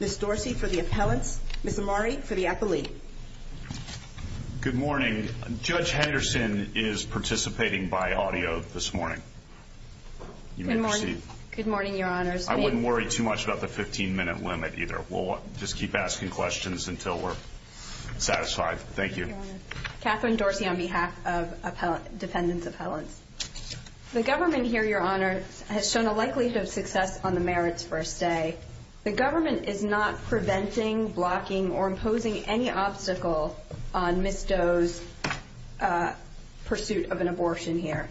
Ms. Dorsey for the appellant. Ms. Amari for the appellee. Good morning. Judge Henderson is participating by audio this morning. You may proceed. Good morning, Your Honor. Judge Henderson is participating by audio. I wouldn't worry too much about the 15-minute limit, either. We'll just keep asking questions until we're satisfied. Thank you. Good morning. Kathryn Dorsey on behalf of the defendant's appellant. The government here, Your Honor, has shown a likelihood of success on the merits first day. The government is not preventing, blocking, or imposing any obstacle on Ms. Doe's pursuit of an abortion here,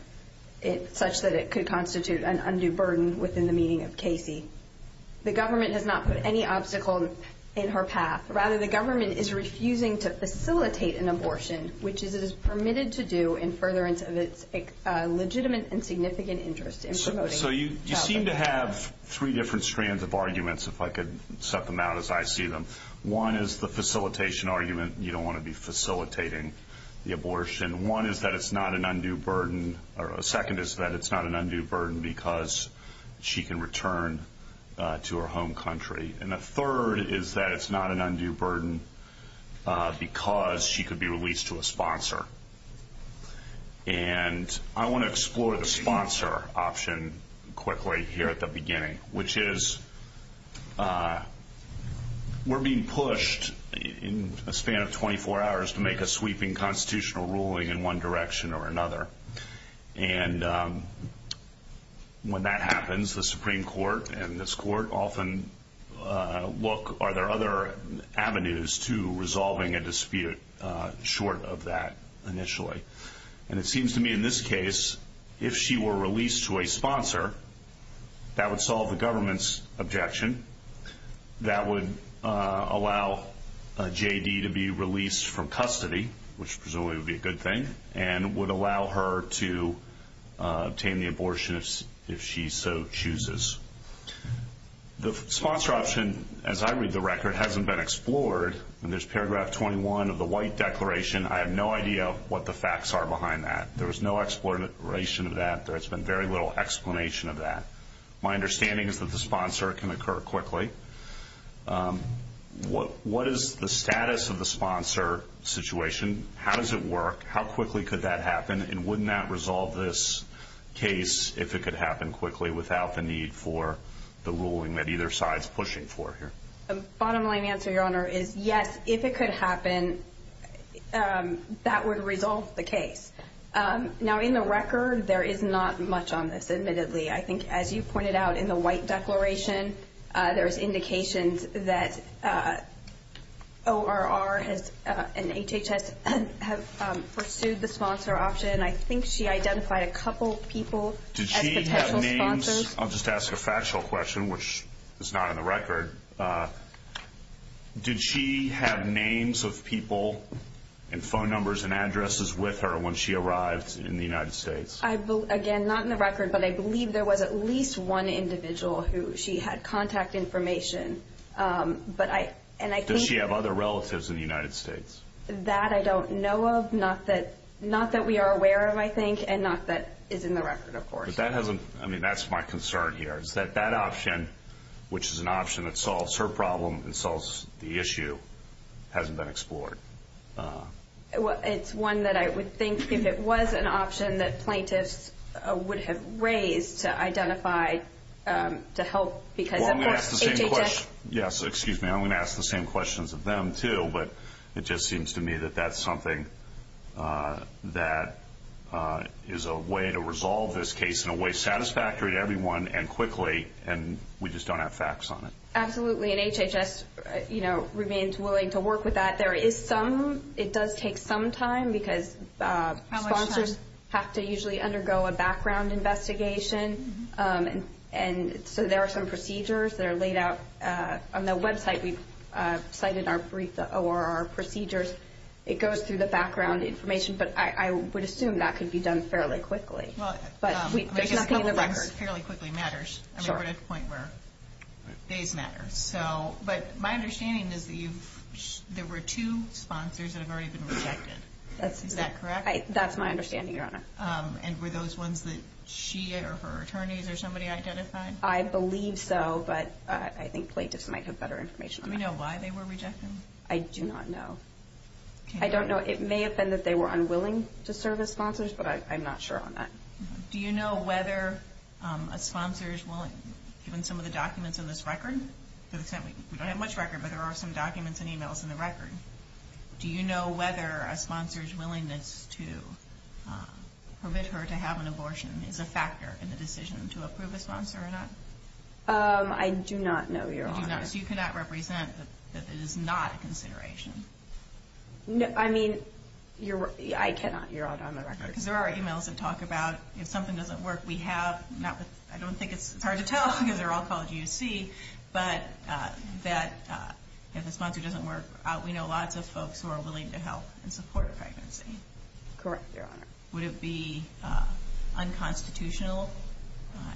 such that it could constitute an undue burden within the meaning of Casey. The government has not put any obstacle in her path. Rather, the government is refusing to facilitate an abortion, which it is permitted to do in furtherance of its legitimate and significant interest in promoting health. So you seem to have three different strands of arguments, if I could set them out as I see them. One is the facilitation argument. You don't want to be facilitating the abortion. One is that it's not an undue burden, or second is that it's not an undue burden because she can return to her home country. And the third is that it's not an undue burden because she could be released to a sponsor. And I want to explore the sponsor option quickly here at the beginning, which is we're being pushed in a span of 24 hours to make a sweeping constitutional ruling in one direction or another. And when that happens, the Supreme Court and this court often look, are there other avenues to resolving a dispute short of that initially? And it seems to me in this case, if she were released to a sponsor, that would solve the government's objection. That would allow J.D. to be released from custody, which presumably would be a good thing, and would allow her to obtain the abortion if she so chooses. The sponsor option, as I read the record, hasn't been explored. In this paragraph 21 of the White Declaration, I have no idea what the facts are behind that. There was no exploration of that. There's been very little explanation of that. My understanding is that the sponsor can occur quickly. What is the status of the sponsor situation? How does it work? How quickly could that happen, and wouldn't that resolve this case if it could happen quickly, without the need for the ruling that either side is pushing for here? The bottom line answer, Your Honor, is yes, if it could happen, that would resolve the case. Now, in the record, there is not much on this, admittedly. I think, as you pointed out in the White Declaration, there's indications that ORR and HHS have pursued the sponsor option. I think she identified a couple people as potential sponsors. I'll just ask a factual question, which is not in the record. Did she have names of people and phone numbers and addresses with her when she arrived in the United States? Again, not in the record, but I believe there was at least one individual who she had contact information. Does she have other relatives in the United States? That I don't know of, not that we are aware of, I think, and not that is in the record, of course. That's my concern here, is that that option, which is an option that solves her problem and solves the issue, hasn't been explored. It's one that I would think, if it was an option, that plaintiffs would have raised to help because of HHS. Yes, excuse me, I'm going to ask the same questions of them, too, but it just seems to me that that's something that is a way to resolve this case in a way satisfactory to everyone and quickly, and we just don't have facts on it. Absolutely, and HHS remains willing to work with that. It does take some time because sponsors have to usually undergo a background investigation, and so there are some procedures that are laid out on the website. We've cited our brief ORR procedures. It goes through the background information, but I would assume that could be done fairly quickly. Well, I guess the record fairly quickly matters, and we're at a point where days matter. But my understanding is that there were two sponsors that have already been rejected. That's my understanding, Your Honor. And were those ones that she or her attorneys or somebody identified? I believe so, but I think plaintiffs might have better information on that. Do you know why they were rejected? I do not know. I don't know. It may have been that they were unwilling to serve as sponsors, but I'm not sure on that. Do you know whether a sponsor is willing, given some of the documents in this record? We don't have much record, but there are some documents and e-mails in the record. Do you know whether a sponsor's willingness to permit her to have an abortion is a factor in the decision to approve a sponsor or not? I do not know, Your Honor. So you cannot represent that this is not a consideration? I mean, I cannot. You're out on the record. There are e-mails that talk about if something doesn't work, we have. I don't think it's hard to tell, given their alcohol use, but that if a sponsor doesn't work, we know lots of folks who are willing to help and support a pregnancy. Correct, Your Honor. Would it be unconstitutional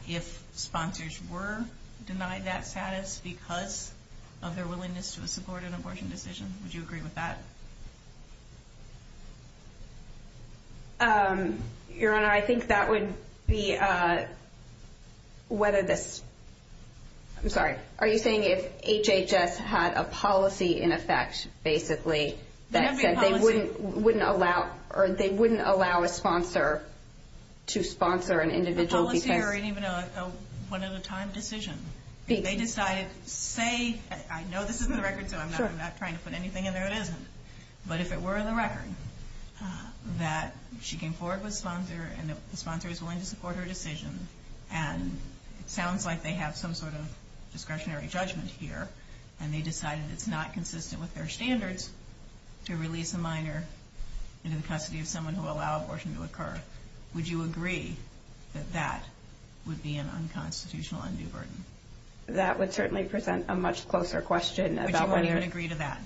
if sponsors were denied that status because of their willingness to support an abortion decision? Would you agree with that? Your Honor, I think that would be whether that's – I'm sorry. Are you saying if HHS had a policy in effect, basically, that they wouldn't allow a sponsor to sponsor an individual? It's a policy or even a one-at-a-time decision. They decide, say, I know this is the record, so I'm not trying to put anything in there that isn't. But if it were the record, that she came forward with a sponsor, and the sponsor is willing to support her decision, and it sounds like they have some sort of discretionary judgment here, and they decide that it's not consistent with their standards to release a minor in the custody of someone who allowed abortion to occur, would you agree that that would be an unconstitutional undue burden? That would certainly present a much closer question. Would you agree to that?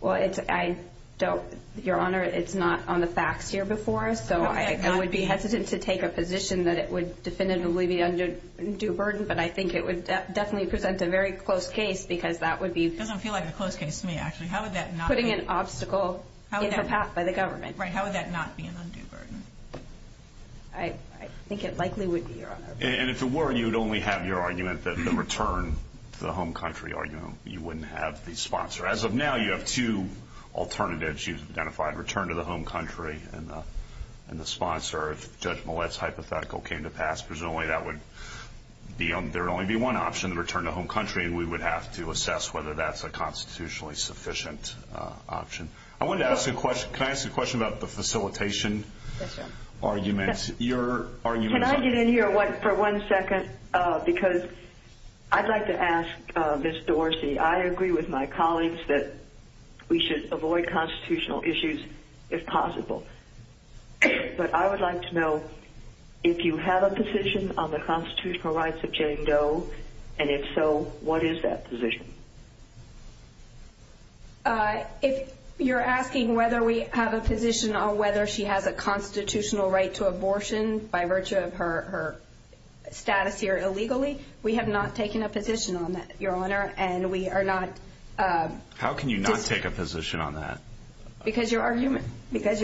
Well, I don't – Your Honor, it's not on the facts here before, so I would be hesitant to take a position that it would definitively be an undue burden, but I think it would definitely present a very close case because that would be – It doesn't feel like a close case to me, actually. Putting an obstacle in the path by the government. Right. How would that not be an undue burden? I think it likely would be, Your Honor. And if it were, you would only have your argument that the return to the home country argument, you wouldn't have the sponsor. As of now, you have two alternatives. You've identified return to the home country and the sponsor. If Judge Millett's hypothetical came to pass, presumably that would be – there would only be one option, the return to home country, and we would have to assess whether that's a constitutionally sufficient option. I wanted to ask a question. Can I ask a question about the facilitation argument? Can I get in here for one second because I'd like to ask Ms. Dorsey, I agree with my colleagues that we should avoid constitutional issues if possible, but I would like to know if you have a position on the constitutional rights of Jane Doe, and if so, what is that position? If you're asking whether we have a position on whether she has a constitutional right to abortion by virtue of her status here illegally, we have not taken a position on that, Your Honor, and we are not – How can you not take a position on that? Because, Your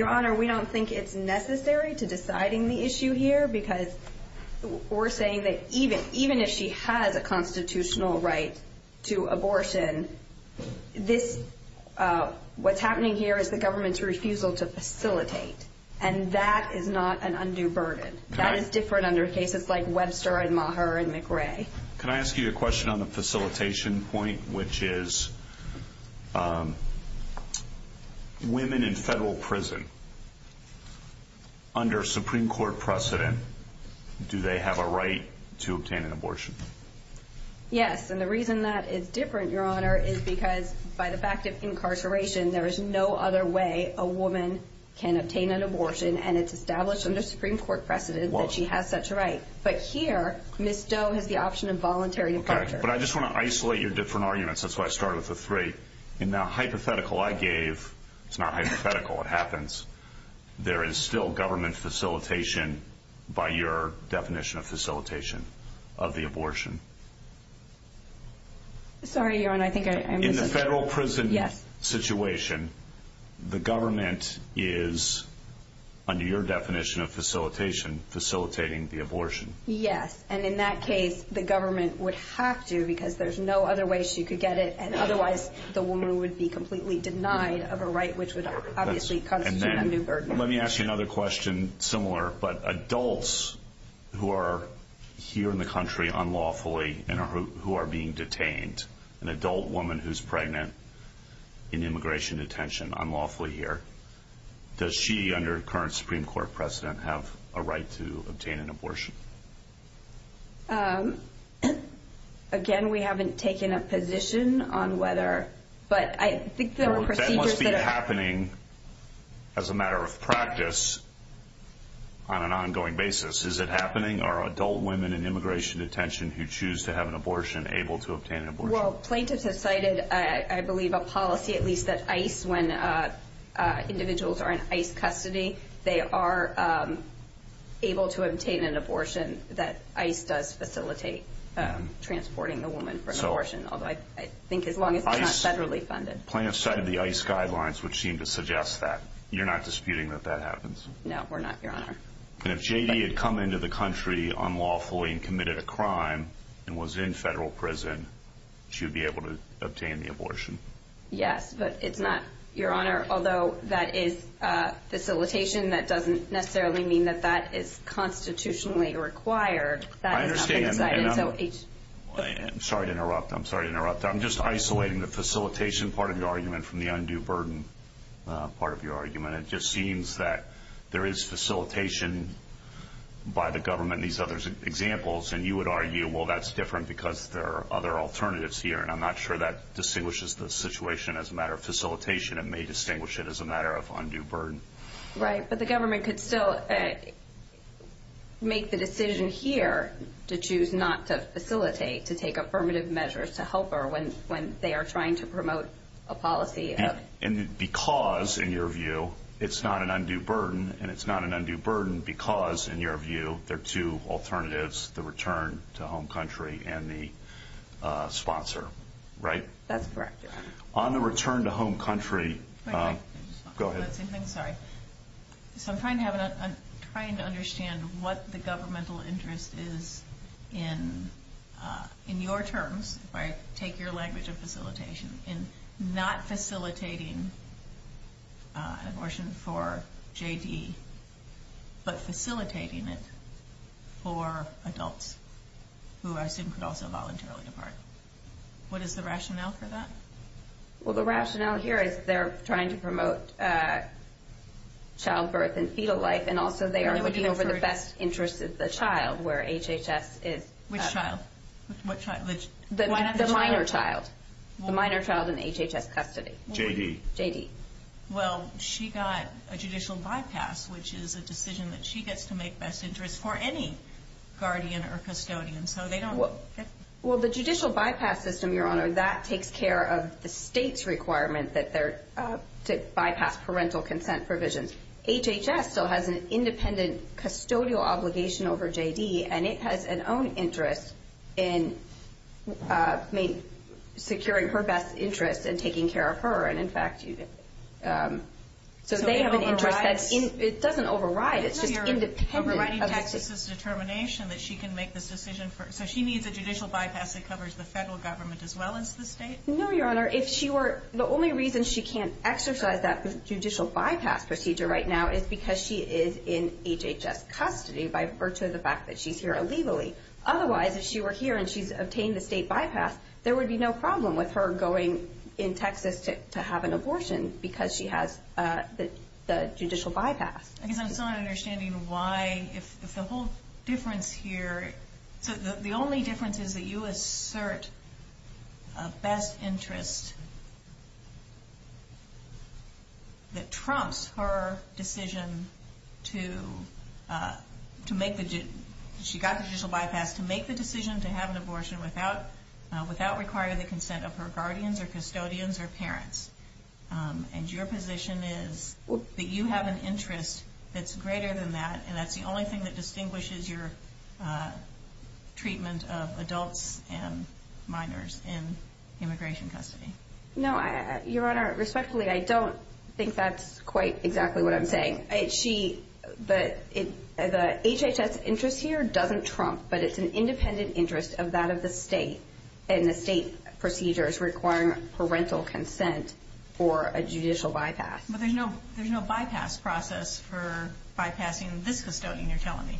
Honor, we don't think it's necessary to deciding the issue here because we're saying that even if she has a constitutional right to abortion, this – what's happening here is the government's refusal to facilitate, and that is not an undue burden. That is different under cases like Webster and Maher and McRae. Can I ask you a question on the facilitation point, which is women in federal prison, under Supreme Court precedent, do they have a right to obtain an abortion? Yes, and the reason that is different, Your Honor, is because by the fact of incarceration, there is no other way a woman can obtain an abortion, and it's established under Supreme Court precedent that she has such a right. But here, Ms. Doe has the option of voluntary abortion. Okay, but I just want to isolate your different arguments. That's why I started with the three. In that hypothetical I gave – it's not hypothetical, it happens – there is still government facilitation by your definition of facilitation of the abortion. Sorry, Your Honor, I think I – In the federal prison situation, the government is, under your definition of facilitation, facilitating the abortion. Yes, and in that case, the government would have to, because there's no other way she could get it, and otherwise the woman would be completely denied of a right, which would obviously put her under burden. Let me ask you another question similar. But adults who are here in the country unlawfully and who are being detained, an adult woman who's pregnant in immigration detention unlawfully here, does she, under current Supreme Court precedent, have a right to obtain an abortion? Again, we haven't taken a position on whether, but I think there are procedures that are – That must be happening as a matter of practice on an ongoing basis. Is it happening? Are adult women in immigration detention who choose to have an abortion able to obtain an abortion? Well, plaintiffs have cited, I believe, a policy, at least at ICE, when individuals are in ICE custody, they are able to obtain an abortion that ICE does facilitate transporting a woman from abortion, although I think as long as they're not federally funded. Plaintiffs cited the ICE guidelines, which seem to suggest that. You're not disputing that that happens? No, we're not, Your Honor. And if J.D. had come into the country unlawfully and committed a crime and was in federal prison, she would be able to obtain the abortion? Yes, but it's not – Your Honor, although that is facilitation, that doesn't necessarily mean that that is constitutionally required. I understand, and I'm – I'm sorry to interrupt. I'm sorry to interrupt. I'm just isolating the facilitation part of your argument from the undue burden part of your argument. It just seems that there is facilitation by the government in these other examples, and you would argue, well, that's different because there are other alternatives here, and I'm not sure that distinguishes the situation as a matter of facilitation. It may distinguish it as a matter of undue burden. Right, but the government could still make the decision here to choose not to facilitate, to take affirmative measures to help her when they are trying to promote a policy. And because, in your view, it's not an undue burden, and it's not an undue burden because, in your view, there are two alternatives, the return to home country and the sponsor, right? That's correct. On the return to home country – Go ahead. I'm sorry. So I'm trying to understand what the governmental interest is in your terms, if I take your language of facilitation, in not facilitating abortion for J.D., but facilitating it for adults who I assume could also voluntarily depart. What is the rationale for that? Well, the rationale here is they're trying to promote childbirth and fetal life, and also they are looking over the best interests of the child, where HHS is – Which child? The minor child. The minor child in HHS custody. J.D.? J.D. Well, she got a judicial bypass, which is a decision that she gets to make best interest for any guardian or custodian, so they don't – Well, the judicial bypass system, Your Honor, that takes care of the state's requirement to bypass parental consent provisions. HHS still has an independent custodial obligation over J.D., and it has an own interest in securing her best interest and taking care of her. And, in fact, you – So they have an interest – It doesn't override. It doesn't override. It's just independent. No, Your Honor. This is determination that she can make this decision. So she needs a judicial bypass that covers the federal government as well as the state? No, Your Honor. If she were – The only reason she can't exercise that judicial bypass procedure right now is because she is in HHS custody by virtue of the fact that she's here illegally. Otherwise, if she were here and she obtained a state bypass, there would be no problem with her going in Texas to have an abortion because she has the judicial bypass. I guess I'm not understanding why – The whole difference here – The only difference is that you assert a best interest that trumps her decision to make the – She got the judicial bypass to make the decision to have an abortion without requiring the consent of her guardians or custodians or parents. And your position is that you have an interest that's greater than that, and that's the only thing that distinguishes your treatment of adults and minors in immigration custody. No, Your Honor. Respectfully, I don't think that's quite exactly what I'm saying. The HHS interest here doesn't trump, but it's an independent interest of that of the state and the state procedures requiring parental consent for a judicial bypass. But there's no bypass process for bypassing. This custodian, you're telling me.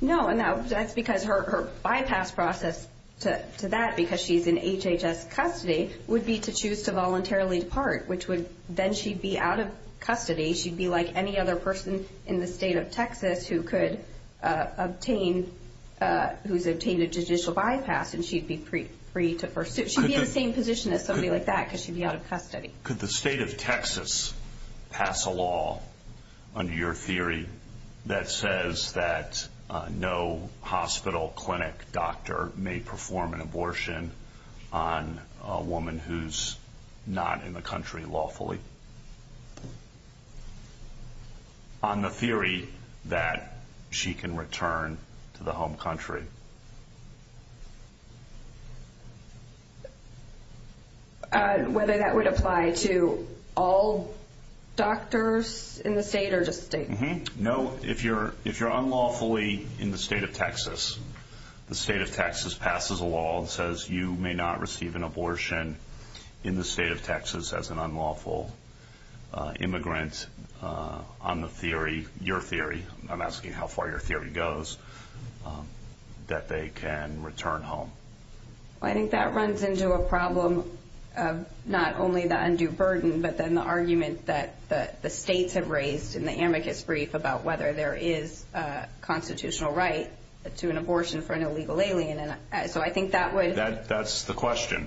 No, I'm not. That's because her bypass process to that, because she's in HHS custody, would be to choose to voluntarily depart, which would – then she'd be out of custody. She'd be like any other person in the state of Texas who could obtain – who's obtained a judicial bypass, and she'd be free to pursue. She'd be in the same position as somebody like that because she'd be out of custody. Could the state of Texas pass a law under your theory that says that no hospital, clinic, doctor may perform an abortion on a woman who's not in the country lawfully, on the theory that she can return to the home country? Thank you. Whether that would apply to all doctors in the state or just states? No. If you're unlawfully in the state of Texas, the state of Texas passes a law that says you may not receive an abortion in the state of Texas as an unlawful immigrant on the theory, I'm asking how far your theory goes, that they can return home. I think that runs into a problem of not only the undue burden, but then the argument that the states have raised in the amicus brief about whether there is a constitutional right to an abortion for an illegal alien. So I think that would – That's the question.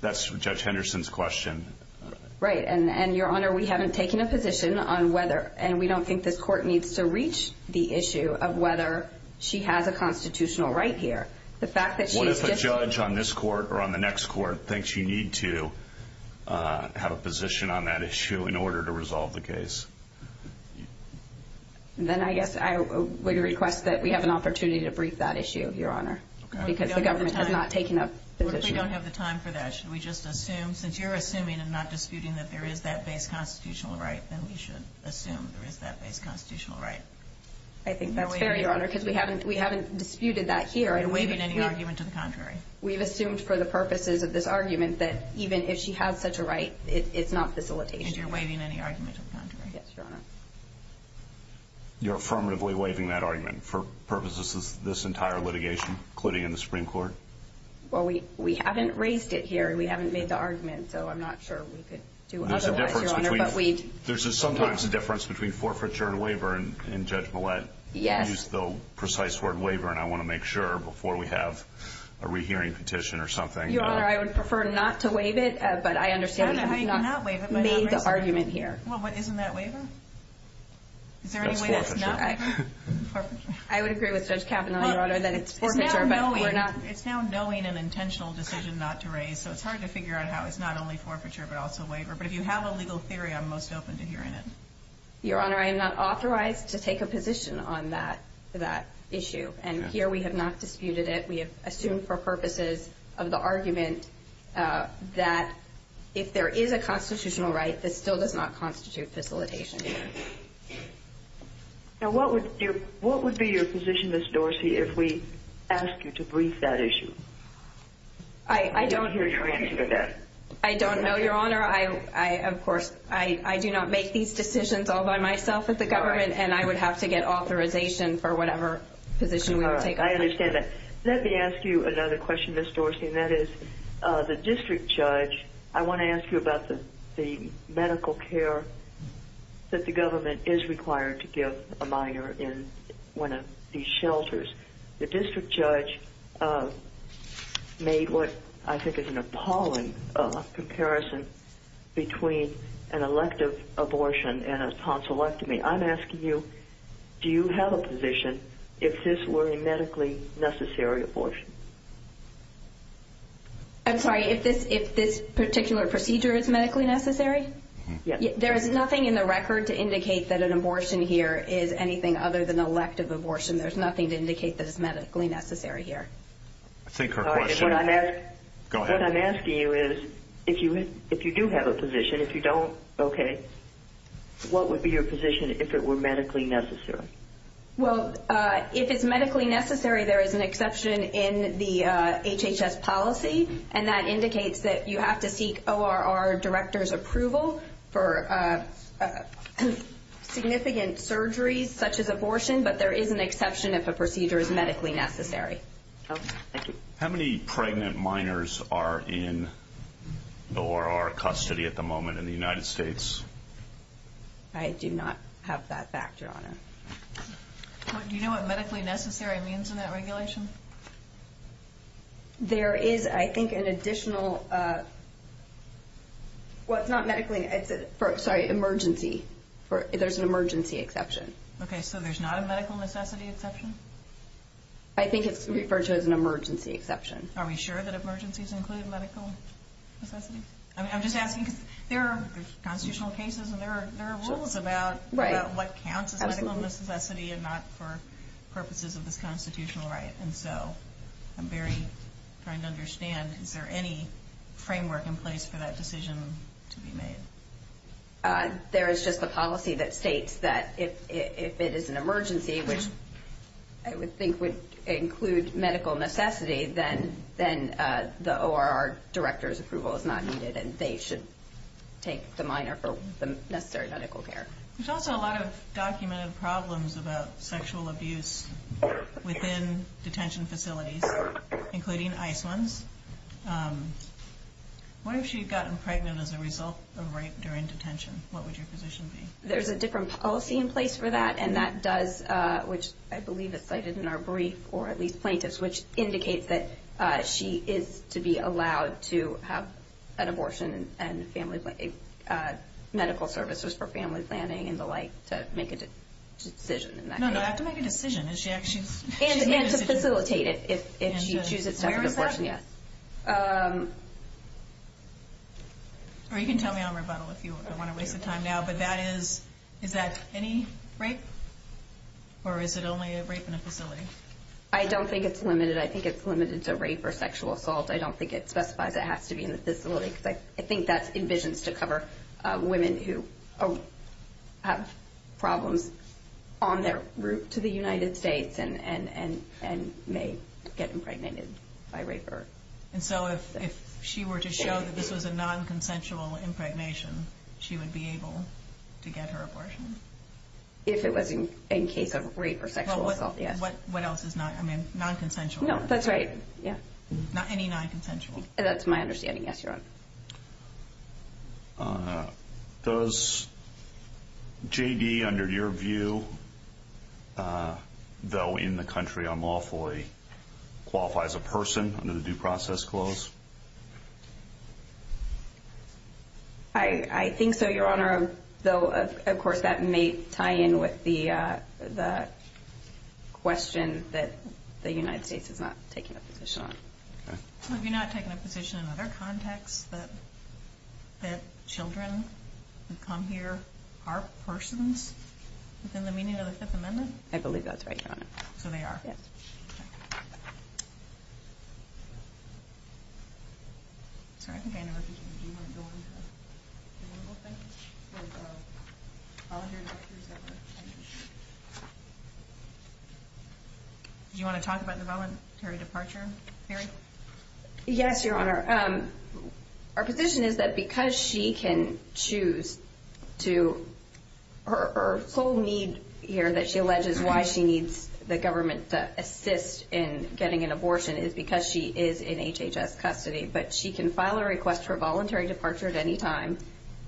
That's Judge Henderson's question. Right. And, Your Honor, we haven't taken a position on whether, and we don't think this court needs to reach the issue of whether she has a constitutional right here. What if a judge on this court or on the next court thinks you need to have a position on that issue in order to resolve the case? Then I guess I would request that we have an opportunity to brief that issue, Your Honor, because the government has not taken a position. We don't have the time for that. Since you're assuming and not disputing that there is that base constitutional right, then we should assume there is that base constitutional right. I think that's fair, Your Honor, because we haven't disputed that here. You're waiving any argument to the contrary. We've assumed for the purposes of this argument that even if she had such a right, it's not facilitation. And you're waiving any argument to the contrary. Yes, Your Honor. You're affirmatively waiving that argument for purposes of this entire litigation, including in the Supreme Court? Well, we haven't raised it here, and we haven't made the argument, so I'm not sure we could do otherwise, Your Honor. There's sometimes a difference between forfeiture and waiver, and Judge Millett used the precise word, waiver, and I want to make sure before we have a rehearing petition or something. Your Honor, I would prefer not to waive it, but I understand you've made the argument here. Well, isn't that waiver? That's forfeiture. I would agree with Judge Kavanaugh, Your Honor, that it's forfeiture. It's now a knowing and intentional decision not to raise, so it's hard to figure out how it's not only forfeiture but also waiver. But if you have a legal theory, I'm most open to hearing it. Your Honor, I am not authorized to take a position on that issue, and here we have not disputed it. We have assumed for purposes of the argument that if there is a constitutional right, this still does not constitute facilitation. Now, what would be your position, Ms. Dorsey, if we asked you to brief that issue? I don't hear your answer to that. I don't know, Your Honor. Of course, I do not make these decisions all by myself as a government, and I would have to get authorization for whatever position we would take. I understand that. Let me ask you another question, Ms. Dorsey, and that is the district judge, I want to ask you about the medical care that the government is required to give a minor in one of these shelters. The district judge made what I think is an appalling comparison between an elective abortion and a tonsillectomy. I'm asking you, do you have a position if this were a medically necessary abortion? I'm sorry, if this particular procedure is medically necessary? Yes. There is nothing in the record to indicate that an abortion here is anything other than elective abortion. There's nothing to indicate that it's medically necessary here. I think her question is, go ahead. What I'm asking you is, if you do have a position, if you don't, okay, what would be your position if it were medically necessary? Well, if it's medically necessary, there is an exception in the HHS policy, and that indicates that you have to seek ORR director's approval for significant surgeries such as abortion, but there is an exception if a procedure is medically necessary. Okay, thank you. How many pregnant minors are in ORR custody at the moment in the United States? I do not have that factor on it. Do you know what medically necessary means in that regulation? There is, I think, an additional emergency exception. Okay, so there's not a medical necessity exception? I think it's referred to as an emergency exception. Are we sure that emergencies include medical necessity? I'm just asking because there are constitutional cases and there are rules about what counts as medical necessity and not for purposes of the constitutional right, and so I'm very trying to understand, is there any framework in place for that decision to be made? There is just a policy that states that if it is an emergency, which I would think would include medical necessity, then the ORR director's approval is not needed and they should take the minor for necessary medical care. There's also a lot of documented problems about sexual abuse within detention facilities, including ICE ones. What if she had gotten pregnant as a result during detention? What would your position be? There's a different policy in place for that, and that does, which I believe is cited in our brief, or at least plaintiffs, which indicates that she is to be allowed to have an abortion and medical services for family planning and the like to make a decision in that case. No, but I have to make a decision. And to facilitate it if she chooses to have an abortion, yes. Or you can tell me on rebuttal if you don't want to waste the time now, but that is, is that any rape, or is it only a rape in the facility? I don't think it's limited. I think it's limited to rape or sexual assault. I don't think it's specified that it has to be in the facility, because I think that's envisioned to cover women who have problems on their route to the United States and may get impregnated by rapists. And so if she were to show that this was a non-consensual impregnation, she would be able to get her abortion? If it was in case of rape or sexual assault, yes. What else is not, I mean, non-consensual? No, that's right. Any non-consensual. That's my understanding, yes, Your Honor. Does J.B., under your view, though in the country unlawfully, qualify as a person under the due process clause? I think so, Your Honor, though of course that may tie in with the question that the United States is not taking a position on. So you're not taking a position in their context that children who come here are persons within the meaning of the Fifth Amendment? I believe that's right, Your Honor. So they are? Yes. Thank you. Do you want to talk about the voluntary departure period? Yes, Your Honor. Our position is that because she can choose to, her sole need here that she alleges why she needs the government to assist in getting an abortion is because she is in HHS custody, but she can file a request for voluntary departure at any time,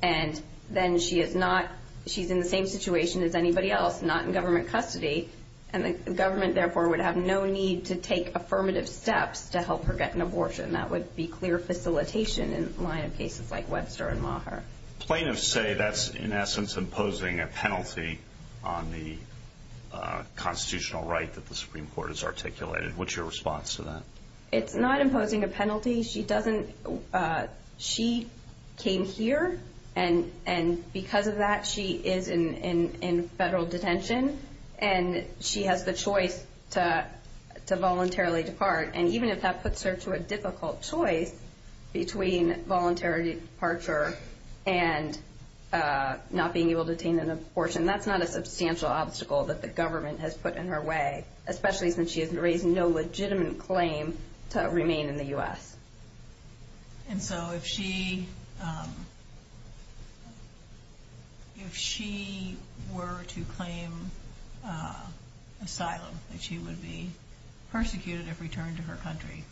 and then she is not, she's in the same situation as anybody else, not in government custody, and the government, therefore, would have no need to take affirmative steps to help her get an abortion. That would be clear facilitation in the line of cases like Webster and Maher. Plaintiffs say that's, in essence, imposing a penalty on the constitutional right that the Supreme Court has articulated. What's your response to that? It's not imposing a penalty. She doesn't, she came here, and because of that, she is in federal detention, and she has the choice to voluntarily depart, and even if that puts her to a difficult choice between voluntary departure and not being able to obtain an abortion, that's not a substantial obstacle that the government has put in her way, especially since she has raised no legitimate claim to remain in the U.S. And so if she, if she were to claim asylum, that she would be persecuted if returned to her country,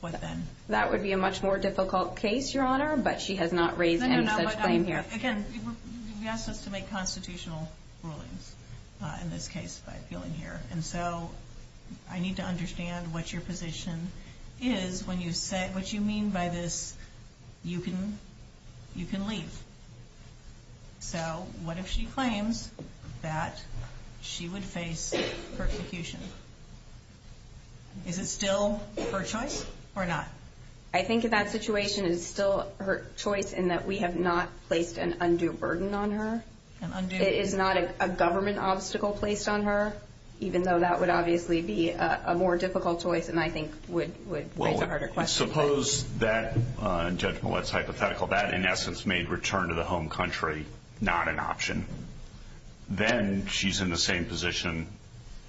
what then? That would be a much more difficult case, Your Honor, but she has not raised any such claim here. No, no, no, but again, you asked us to make constitutional rulings in this case, I feel in here, and so I need to understand what your position is when you say what you mean by this, you can leave. So what if she claims that she would face persecution? Is it still her choice or not? I think that situation is still her choice in that we have not placed an undue burden on her. An undue burden. It's not a government obstacle placed on her, even though that would obviously be a more difficult choice and I think would make a harder question. Well, suppose that, and Judge Millett's hypothetical, that in essence made return to the home country not an option. Then she's in the same position,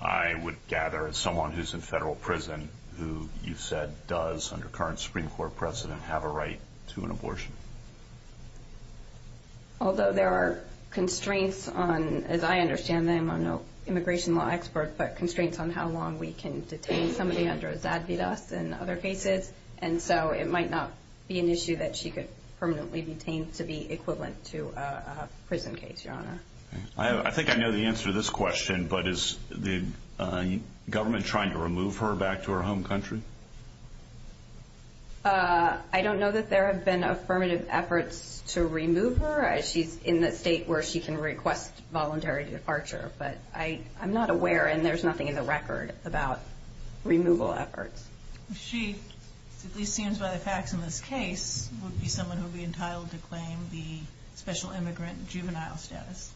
I would gather, as someone who's in federal prison, who you said does, under current Supreme Court precedent, have a right to an abortion. Although there are constraints on, as I understand them, I'm no immigration law expert, but constraints on how long we can detain somebody under a Zadvydas and other cases, and so it might not be an issue that she could permanently be detained to be equivalent to a prison case, Your Honor. I think I know the answer to this question, but is the government trying to remove her back to her home country? I don't know that there have been affirmative efforts to remove her. She's in the state where she can request voluntary departure, but I'm not aware, and there's nothing in the record about removal efforts. She, it seems by the facts in this case, would be someone who would be entitled to claim the special immigrant and juvenile status.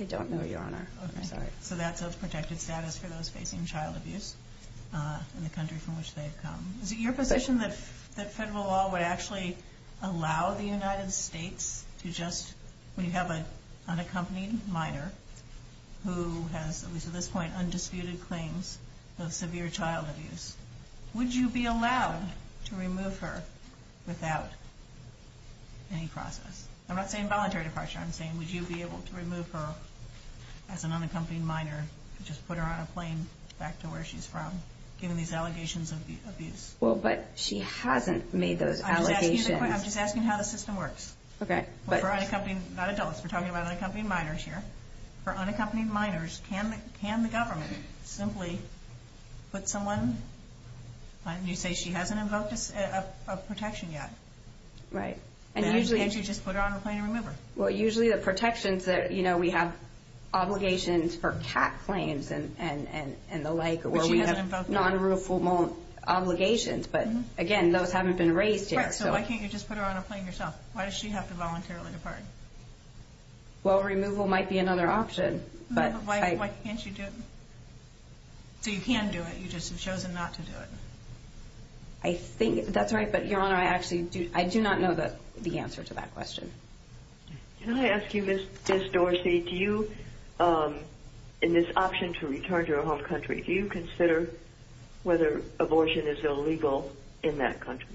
I don't know, Your Honor. So that's a protected status for those facing child abuse in the country from which they've come. Is it your position that federal law would actually allow the United States to just, when you have an unaccompanied minor who has, at least at this point, undisputed claims of severe child abuse, would you be allowed to remove her without any process? I'm not saying voluntary departure. I'm saying would you be able to remove her as an unaccompanied minor, just put her on a plane back to where she's from, given these allegations of abuse? Well, but she hasn't made those allegations. I'm just asking how the system works. For unaccompanied, not adults, we're talking about unaccompanied minors here. For unaccompanied minors, can the government simply put someone, you say she hasn't invoked a protection yet. Right. Can't you just put her on a plane and remove her? Well, usually the protections that, you know, we have obligations for cat claims and the like, where we have non-ruleful obligations, but again, those haven't been raised here. Right. So why can't you just put her on a plane yourself? Why does she have to voluntarily depart? Well, removal might be another option. But why can't you do it? So you can do it. You just have chosen not to do it. I think that's right, but, Your Honor, I actually do not know the answer to that question. Can I ask you, Ms. Dorsey, do you, in this option to return to her home country, do you consider whether abortion is illegal in that country?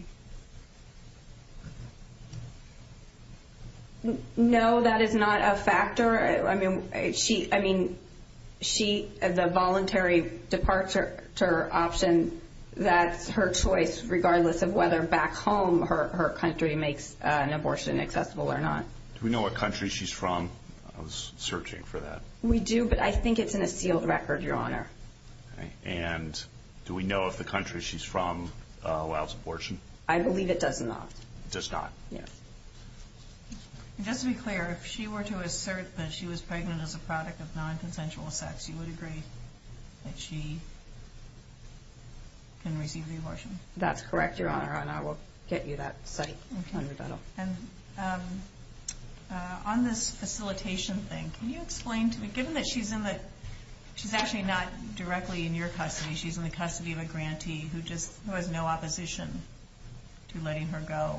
I mean, the voluntary departure option, that's her choice, regardless of whether back home her country makes an abortion accessible or not. Do we know what country she's from? I was searching for that. We do, but I think it's in a sealed record, Your Honor. And do we know if the country she's from allows abortion? I believe it does not. It does not? Yes. Just to be clear, if she were to assert that she was pregnant as a product of non-consensual sex, do you agree that she can receive the abortion? That's correct, Your Honor, and I will get you that study on the dental. And on this facilitation thing, can you explain to me, given that she's in the, she's actually not directly in your custody, she's in the custody of a grantee who just has no opposition to letting her go,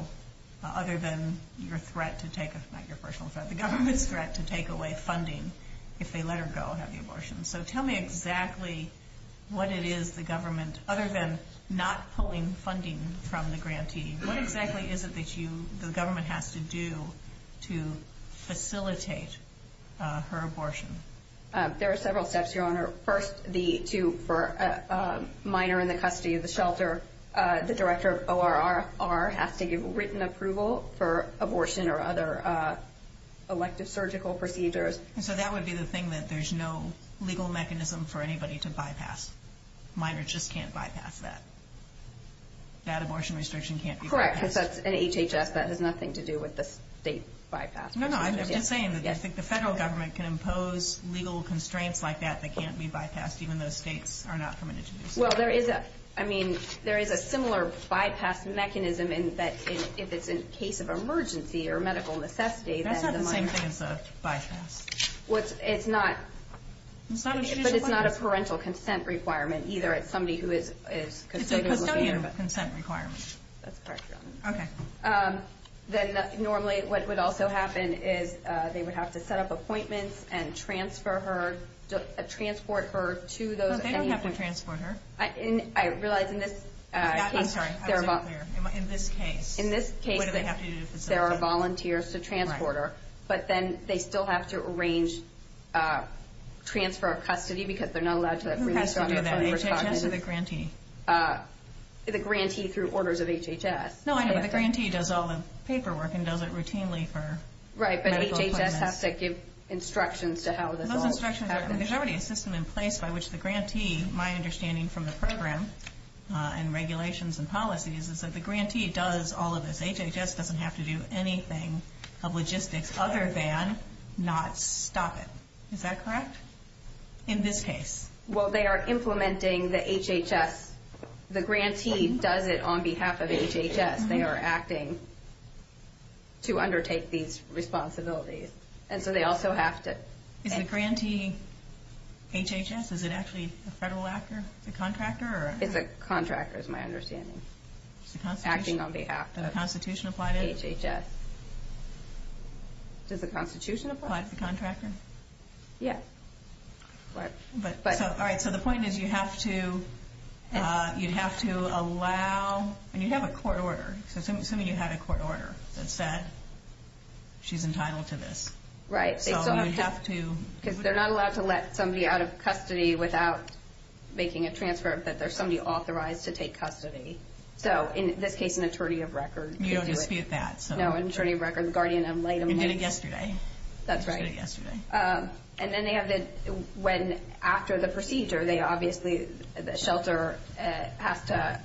other than your threat to take, not your personal threat, the government's threat to take away funding if they let her go and have the abortion. So tell me exactly what it is the government, other than not pulling funding from the grantee, what exactly is it that you, the government has to do to facilitate her abortion? There are several steps, Your Honor. First, for a minor in the custody of the shelter, the director of ORRR has to give written approval for abortion or other electrosurgical procedures. So that would be the thing that there's no legal mechanism for anybody to bypass. Minors just can't bypass that. That abortion restriction can't be bypassed. Correct, because that's an HHS, that has nothing to do with the state bypass. No, no, I'm just saying that I think the federal government can impose legal constraints like that that can't be bypassed, even though states are not permitted to do so. Well, there is a, I mean, there is a similar bypass mechanism in that, if it's in case of emergency or medical necessity, that is a minor. That's not the same thing as a bypass. Well, it's not. But it's not a parental consent requirement, either. It's somebody who is considering. It's a personal consent requirement. That's correct, Your Honor. Okay. Then, normally, what would also happen is they would have to set up appointments and transfer her, transport her to those appointments. No, they don't have to transport her. I realize in this case, there are volunteers to transport her. But then they still have to arrange transfer of custody because they're not allowed to do that. No, no, no, HHS is a grantee. It's a grantee through orders of HHS. No, I know. The grantee does all the paperwork and does it routinely for medical assignments. Right, but HHS has to give instructions to how this all happens. There's already a system in place by which the grantee, my understanding from the program and regulations and policies, is that the grantee does all of this. HHS doesn't have to do anything of logistics other than not stop it. Is that correct in this case? Well, they are implementing the HHS. The grantee does it on behalf of HHS. They are acting to undertake these responsibilities. And so they also have to... Is the grantee HHS? Is it actually a federal actor, a contractor? It's a contractor is my understanding, acting on behalf of HHS. Does the Constitution apply to HHS? Does the Constitution apply? Applies to contractors? Yes. All right, so the point is you have to allow... And you have a court order. Assuming you have a court order that said she's entitled to this. Right. So you have to... Because they're not allowed to let somebody out of custody without making a transfer, but there's somebody authorized to take custody. So, in this case, an attorney of record. You don't get to see that. No, an attorney of record, guardian, and late appointment. And did it yesterday. That's right. Did it yesterday. And then they have to... When after the procedure, they obviously... The shelter has to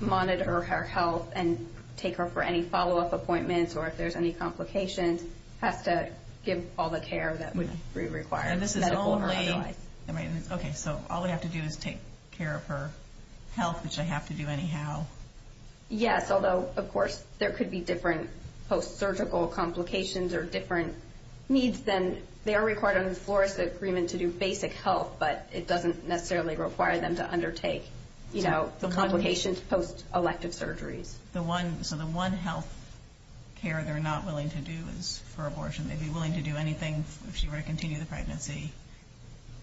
monitor her health and take her for any follow-up appointments or if there's any complication, has to give all the care that would be required. And this is only... Okay, so all we have to do is take care of her health, which I have to do anyhow. Yes, although, of course, there could be different post-surgical complications or different needs, then they are required to enforce the agreement to do basic health, but it doesn't necessarily require them to undertake the complications post-elective surgery. So the one health care they're not willing to do is for abortion. They'd be willing to do anything if she were to continue the pregnancy.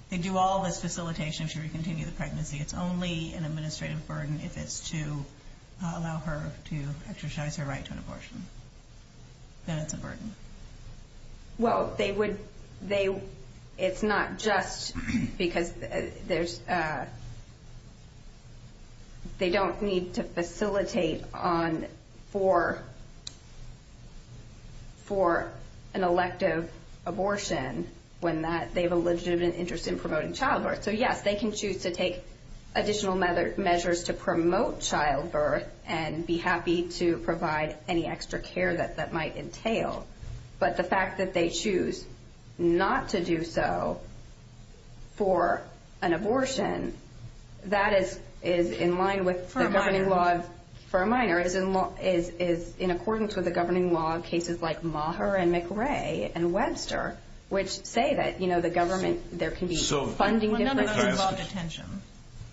They'd do all the facilitation should we continue the pregnancy. It's only an administrative burden if it's to allow her to exercise her right to an abortion. And it's important. Well, they would... It's not just because there's... They don't need to facilitate on for... for an elective abortion when they have a legitimate interest in promoting childbirth. So, yes, they can choose to take additional measures to promote childbirth and be happy to provide any extra care that that might entail. But the fact that they choose not to do so for an abortion, that is in line with the governing law... For a minor. For a minor. It is in accordance with the governing law in cases like Maher and McRae and Webster, which say that, you know, the government, there can be funding... So... Well, none of them involve attention.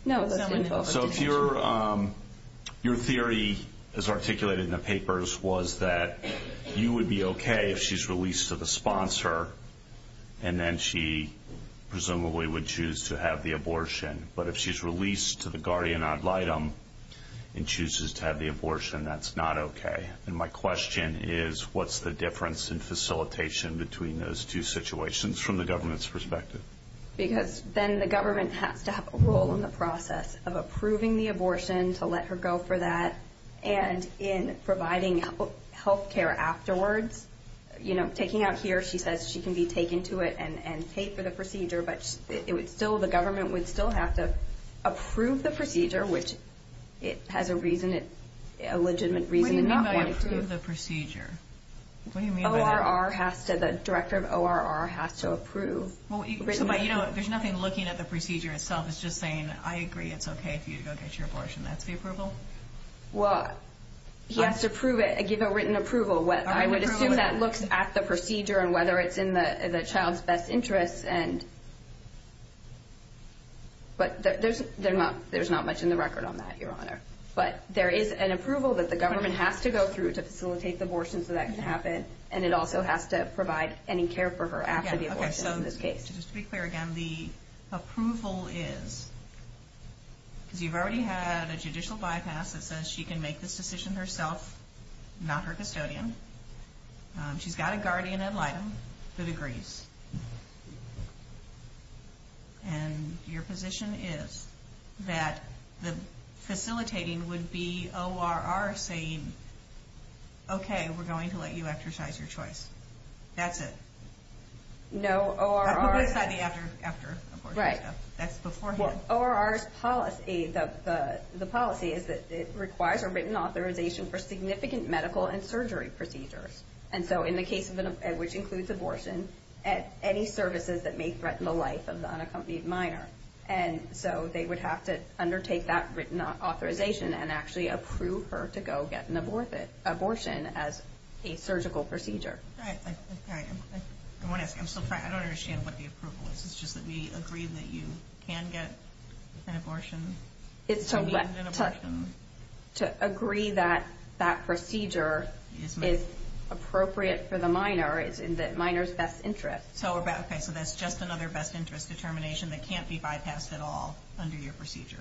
No. None of them involve attention. So if you're... Your theory is articulated in the papers was that you would be okay if she's released to the sponsor and then she presumably would choose to have the abortion. But if she's released to the guardian ad litem and chooses to have the abortion, that's not okay. And my question is, what's the difference in facilitation between those two situations from the government's perspective? Because then the government has to have a role in the process of approving the abortion, to let her go for that, and in providing health care afterwards. You know, taking out here, she says she can be taken to it and paid for the procedure, but it would still... The government would still have to approve the procedure, which it has a reason, a legitimate reason not to approve. What do you mean by approve the procedure? What do you mean by... ORR has to... The director of ORR has to approve. Well, there's nothing looking at the procedure itself. It's just saying, I agree, it's okay if you go get your abortion after the approval. Well, you have to approve it, give a written approval. I would assume that looks at the procedure and whether it's in the child's best interest and... But there's not much in the record on that, Your Honor. But there is an approval that the government has to go through to facilitate the abortion so that can happen, and it also has to provide any care for her after the abortion in this case. Okay, just to be clear again, the approval is... You've already had a judicial bypass that says she can make this decision herself, not her custodian. She's got a guardian ad litem that agrees. And your position is that facilitating would be ORR saying, okay, we're going to let you exercise your choice. That's it. No, ORR... I put it aside after the abortion. Right. That's beforehand. ORR's policy, the policy is that it requires a written authorization for significant medical and surgery procedures. And so in the case which includes abortion, any services that may threaten the life of the unaccompanied minor. And so they would have to undertake that written authorization and actually approve her to go get an abortion as a surgical procedure. Right. I'm sorry. I don't understand what the approval is. It's just that we agree that you can get abortions. To agree that that procedure is appropriate for the minor is in the minor's best interest. Okay, so that's just another best interest determination that can't be bypassed at all under your procedure.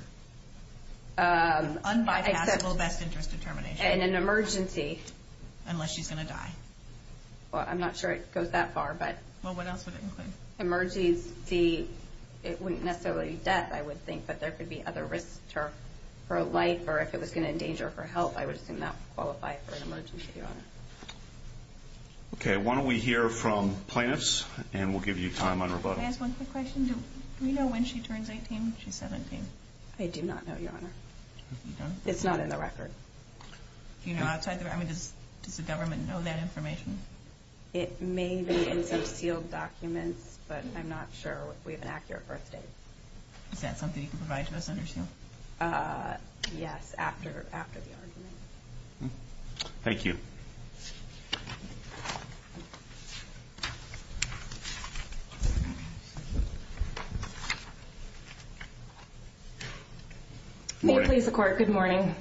Unbypassable best interest determination. In an emergency. Unless she's going to die. Well, I'm not sure it goes that far, but... Well, what else would it include? Emergency, it wouldn't necessarily be death, I would think, but there could be other risks to her life, or if it was going to endanger her health, I would assume that would qualify for an emergency, Your Honor. Okay, why don't we hear from Plants, and we'll give you time on rebuttal. Plants, one quick question. Do we know when she turns 18, when she's 17? I do not know, Your Honor. It's not in the record. Do you know outside the record? Does the government know that information? It may be in concealed documents, but I'm not sure we have an accurate first date. Is that something you can provide to us on your show? Yes, after the emergency. Thank you. May it please the Court, good morning.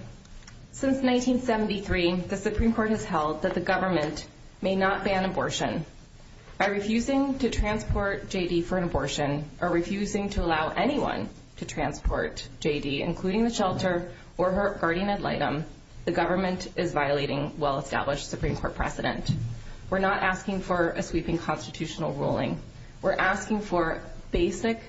Since 1973, the Supreme Court has held that the government may not ban abortion. By refusing to transport J.D. for an abortion, or refusing to allow anyone to transport J.D., including the shelter or her guardian ad litem, The Supreme Court has ruled that the government We're not asking for a sweeping constitutional ruling. We're asking for basic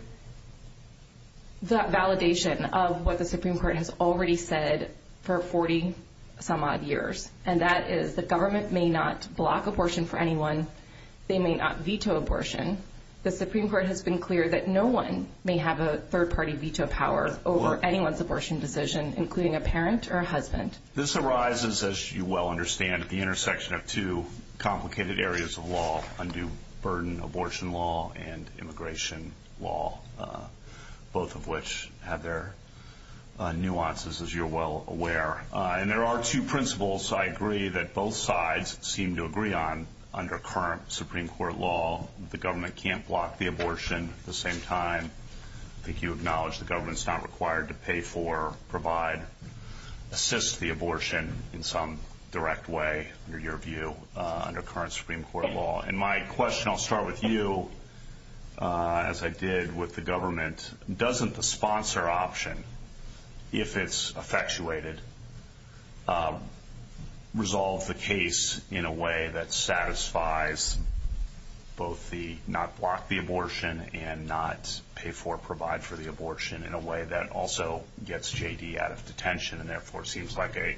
validation of what the Supreme Court has already said for 40-some-odd years, and that is the government may not block abortion for anyone. They may not veto abortion. The Supreme Court has been clear that no one may have a third-party veto power over anyone's abortion decision, including a parent or a husband. This arises, as you well understand, at the intersection of two complicated areas of law, undue burden abortion law and immigration law, both of which have their nuances, as you're well aware. And there are two principles, I agree, that both sides seem to agree on under current Supreme Court law. The government can't block the abortion. At the same time, I think you acknowledge the government's not required to pay for, provide, or assist the abortion in some direct way, under your view, under current Supreme Court law. And my question, I'll start with you, as I did with the government. Doesn't the sponsor option, if it's effectuated, resolve the case in a way that satisfies both the not block the abortion and not pay for, provide for the abortion in a way that also gets J.D. out of detention and therefore seems like a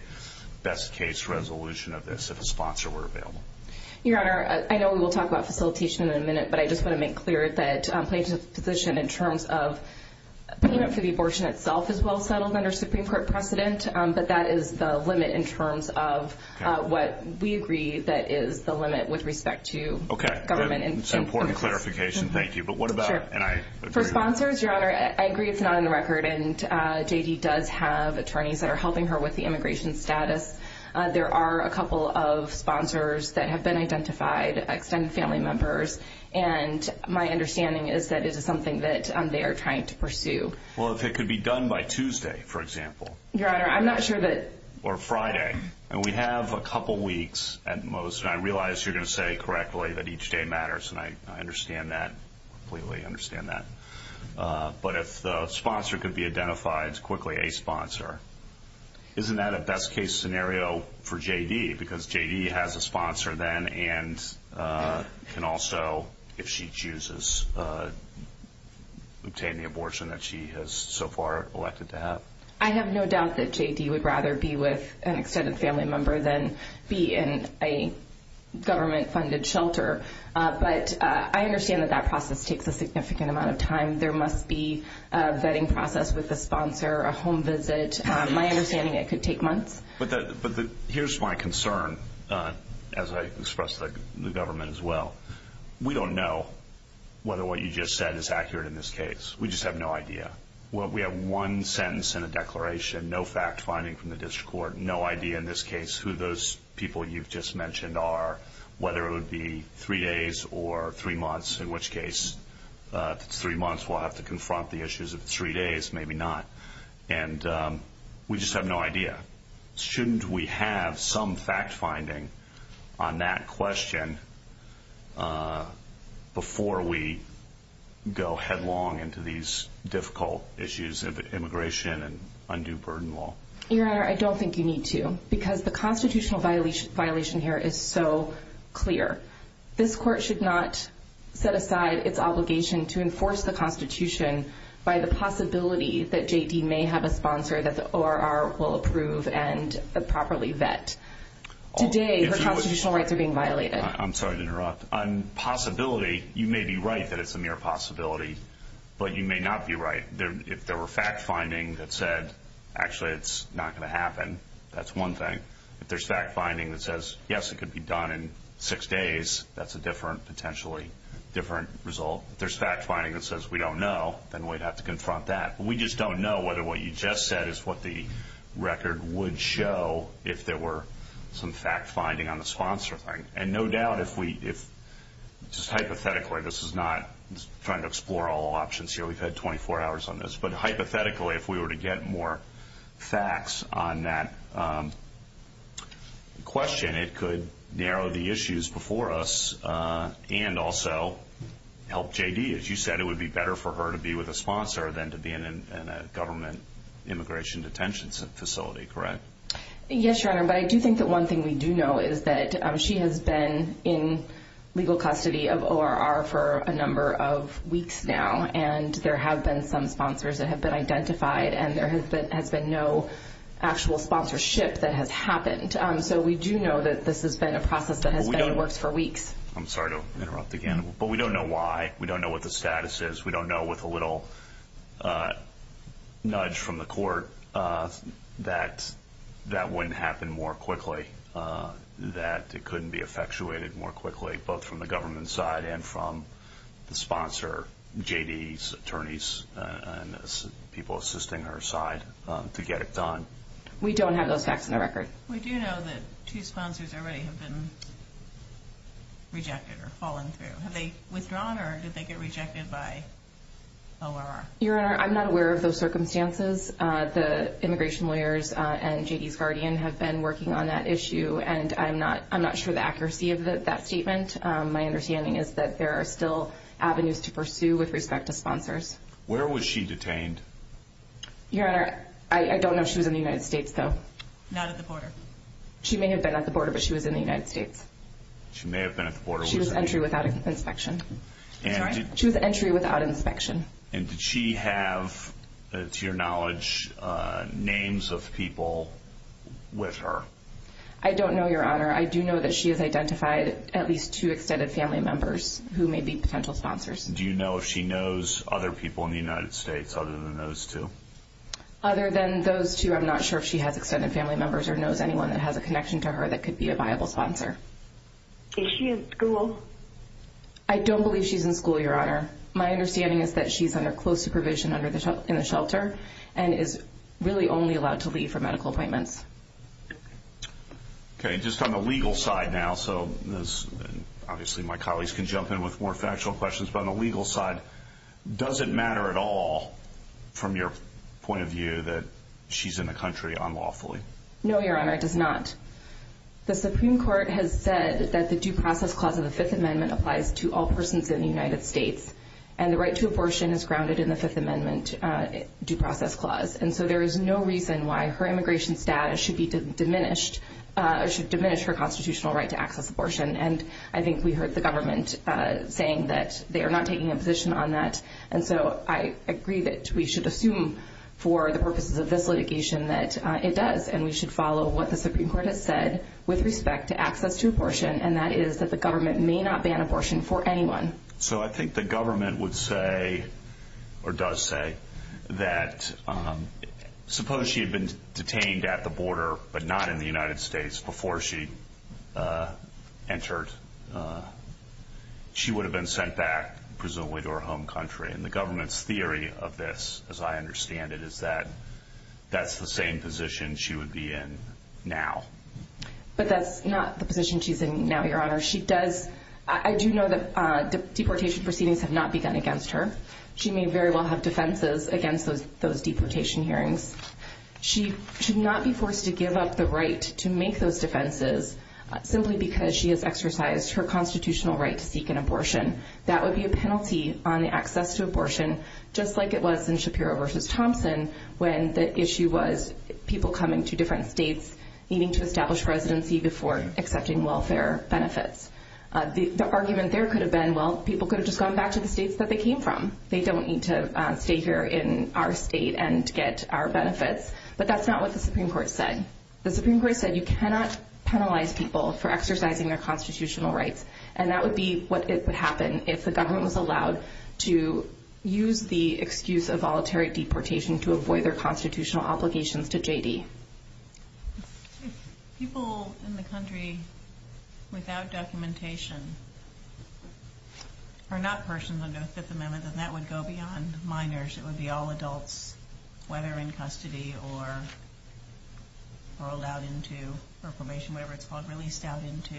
best-case resolution of this if a sponsor were available? Your Honor, I know we will talk about facilitation in a minute, but I just want to make clear that Plaintiff's position in terms of payment for the abortion itself is well settled under Supreme Court precedent, but that is the limit in terms of what we agree that is the limit with respect to government. That's an important clarification, thank you. But what about... For sponsors, Your Honor, I agree it's not on the record, and J.D. does have attorneys that are helping her with the immigration status. There are a couple of sponsors that have been identified, extended family members, and my understanding is that this is something that they are trying to pursue. Well, if it could be done by Tuesday, for example. Your Honor, I'm not sure that... Or Friday. And we have a couple weeks at most, and I realize you're going to say correctly that each day matters, and I understand that, completely understand that. But if the sponsor could be identified as quickly a sponsor, isn't that a best-case scenario for J.D.? Because J.D. has a sponsor then, and can also, if she chooses, obtain the abortion that she has so far elected to have. I have no doubt that J.D. would rather be with an extended family member than be in a government-funded shelter, but I understand that that process takes a significant amount of time. There must be a vetting process with the sponsor, a home visit. My understanding is it could take months. But here's my concern, as I expressed to the government as well. We don't know whether what you just said is accurate in this case. We just have no idea. We have one sentence in a declaration, no fact-finding from the district court, no idea in this case who those people you've just mentioned are, whether it would be three days or three months, in which case three months we'll have to confront the issues, if three days, maybe not. And we just have no idea. Shouldn't we have some fact-finding on that question before we go headlong into these difficult issues of immigration and undue burden law? Your Honor, I don't think you need to, because the constitutional violation here is so clear. This court should not set aside its obligation to enforce the Constitution by the possibility that JP may have a sponsor that the ORR will approve and properly vet today for constitutional rights are being violated. I'm sorry to interrupt. On possibility, you may be right that it's a mere possibility, but you may not be right. If there were fact-finding that said, actually it's not going to happen, that's one thing. If there's fact-finding that says, yes, it could be done in six days, that's a different, potentially different result. If there's fact-finding that says we don't know, then we'd have to confront that. We just don't know whether what you just said is what the record would show if there were some fact-finding on the sponsor thing. And no doubt if we, just hypothetically, this is not trying to explore all options here. We've had 24 hours on this. But hypothetically, if we were to get more facts on that question, it could narrow the issues before us and also help JD. As you said, it would be better for her to be with a sponsor than to be in a government immigration detention facility, correct? Yes, Your Honor, but I do think that one thing we do know is that she has been in legal custody of ORR for a number of weeks now, and there have been some sponsors that have been identified, and there has been no actual sponsorship that has happened. So we do know that this has been a process that has been worse for weeks. I'm sorry to interrupt again, but we don't know why. We don't know what the status is. We don't know with a little nudge from the court that that wouldn't happen more quickly, that it couldn't be effectuated more quickly, both from the government side and from the sponsor, JD's attorneys, and people assisting her side to get it done. We don't have those facts on the record. We do know that two sponsors already have been rejected or fallen through. Have they withdrawn, or did they get rejected by ORR? Your Honor, I'm not aware of those circumstances. The immigration lawyers and JD's guardian have been working on that issue, and I'm not sure of the accuracy of that statement. My understanding is that there are still avenues to pursue with respect to sponsors. Where was she detained? Your Honor, I don't know. She was in the United States, though. Not at the border. She may have been at the border, but she was in the United States. She may have been at the border. She was entry without inspection. Sorry? She was entry without inspection. And did she have, to your knowledge, names of people with her? I don't know, Your Honor. I do know that she has identified at least two extended family members who may be potential sponsors. Do you know if she knows other people in the United States other than those two? Other than those two, I'm not sure if she has extended family members or knows anyone that has a connection to her that could be a viable sponsor. Is she in school? I don't believe she's in school, Your Honor. My understanding is that she's under close supervision in the shelter and is really only allowed to leave for medical appointments. Okay. Just on the legal side now, so obviously my colleagues can jump in with more factual questions, but on the legal side, does it matter at all from your point of view that she's in the country unlawfully? No, Your Honor, it does not. The Supreme Court has said that the Due Process Clause of the Fifth Amendment applies to all persons in the United States, and the right to abortion is grounded in the Fifth Amendment Due Process Clause. And so there is no reason why her immigration status should be diminished or should diminish her constitutional right to access abortion. And I think we heard the government saying that they are not taking a position on that. And so I agree that we should assume for the purposes of this litigation that it does, and we should follow what the Supreme Court has said with respect to access to abortion, and that is that the government may not ban abortion for anyone. So I think the government would say, or does say, that suppose she had been detained at the border but not in the United States before she entered, she would have been sent back presumably to her home country. And the government's theory of this, as I understand it, is that that's the same position she would be in now. But that's not the position she's in now, Your Honor. I do know that deportation proceedings have not begun against her. She may very well have defenses against those deportation hearings. She should not be forced to give up the right to make those defenses simply because she has exercised her constitutional right to seek an abortion. That would be a penalty on access to abortion, just like it was in Shapiro v. Thompson when the issue was people coming to different states needing to establish residency before accepting welfare benefits. The argument there could have been, well, people could have just gone back to the states that they came from. They don't need to stay here in our state and get our benefits. But that's not what the Supreme Court said. The Supreme Court said you cannot penalize people for exercising their constitutional rights, and that would be what would happen if the government was allowed to use the excuse of voluntary deportation to avoid their constitutional obligations to J.D. If people in the country, without documentation, are not persons of the Fifth Amendment, then that would go beyond minors. It would be all adults, whether in custody or allowed into performation, whatever it's called, released out into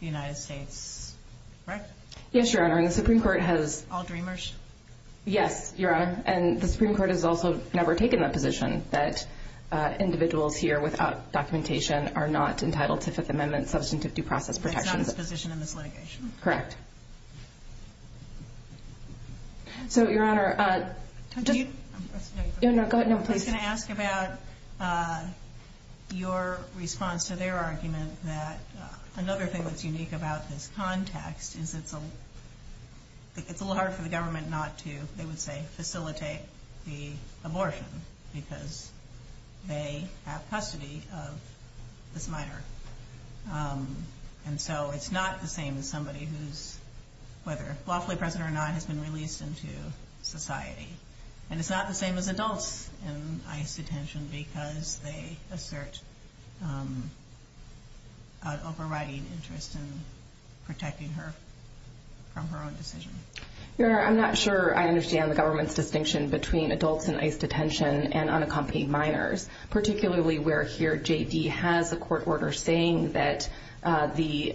the United States, correct? Yes, Your Honor. The Supreme Court has... All dreamers? Yes, Your Honor. And the Supreme Court has also never taken that position, that individuals here without documentation are not entitled to Fifth Amendment substantive due process protections. That's not the position in this litigation? Correct. So, Your Honor, do you... No, no, go ahead. Can I ask about your response to their argument that another thing that's unique about this context is it's a little hard for the government not to, they would say, facilitate the abortion because they have custody of this minor. And so it's not the same as somebody who's, whether lawfully present or not, has been released into society. And it's not the same as adults in ICE detention because they assert an overriding interest in protecting her from her own decision. Your Honor, I'm not sure I understand the government's distinction between adults in ICE detention and unaccompanied minors, particularly where here J.D. has a court order saying that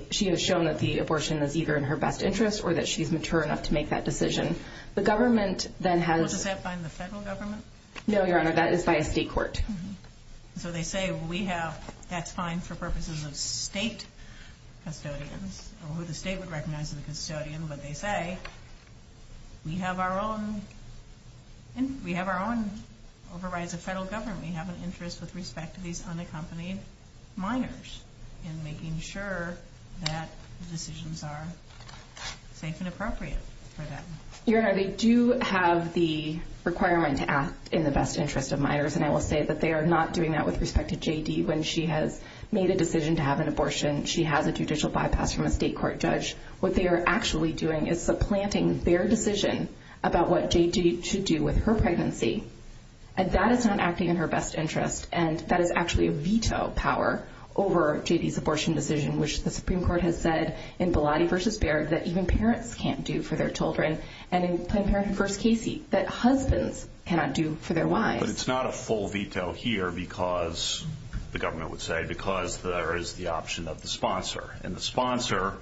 she has shown that the abortion was either in her best interest or that she's mature enough to make that decision. The government then has... Does that bind the federal government? No, Your Honor, that is by a state court. So they say we have, that's fine for purposes of state custodians. I don't know who the state would recognize as a custodian, but they say we have our own overrides of federal government. We have an interest with respect to these unaccompanied minors in making sure that decisions are safe and appropriate for them. Your Honor, they do have the requirement to ask in the best interest of minors, and I will say that they are not doing that with respect to J.D. when she has made a decision to have an abortion. She has a judicial bypass from a state court judge. What they are actually doing is supplanting their decision about what J.D. should do with her pregnancy. And that is not acting in her best interest, and that is actually a veto power over J.D.'s abortion decision, which the Supreme Court has said in Bilotti v. Baird that even parents can't do for their children, and in Planned Parenthood v. Casey that husbands cannot do for their wives. But it's not a full veto here because, the government would say, because there is the option of the sponsor. And the sponsor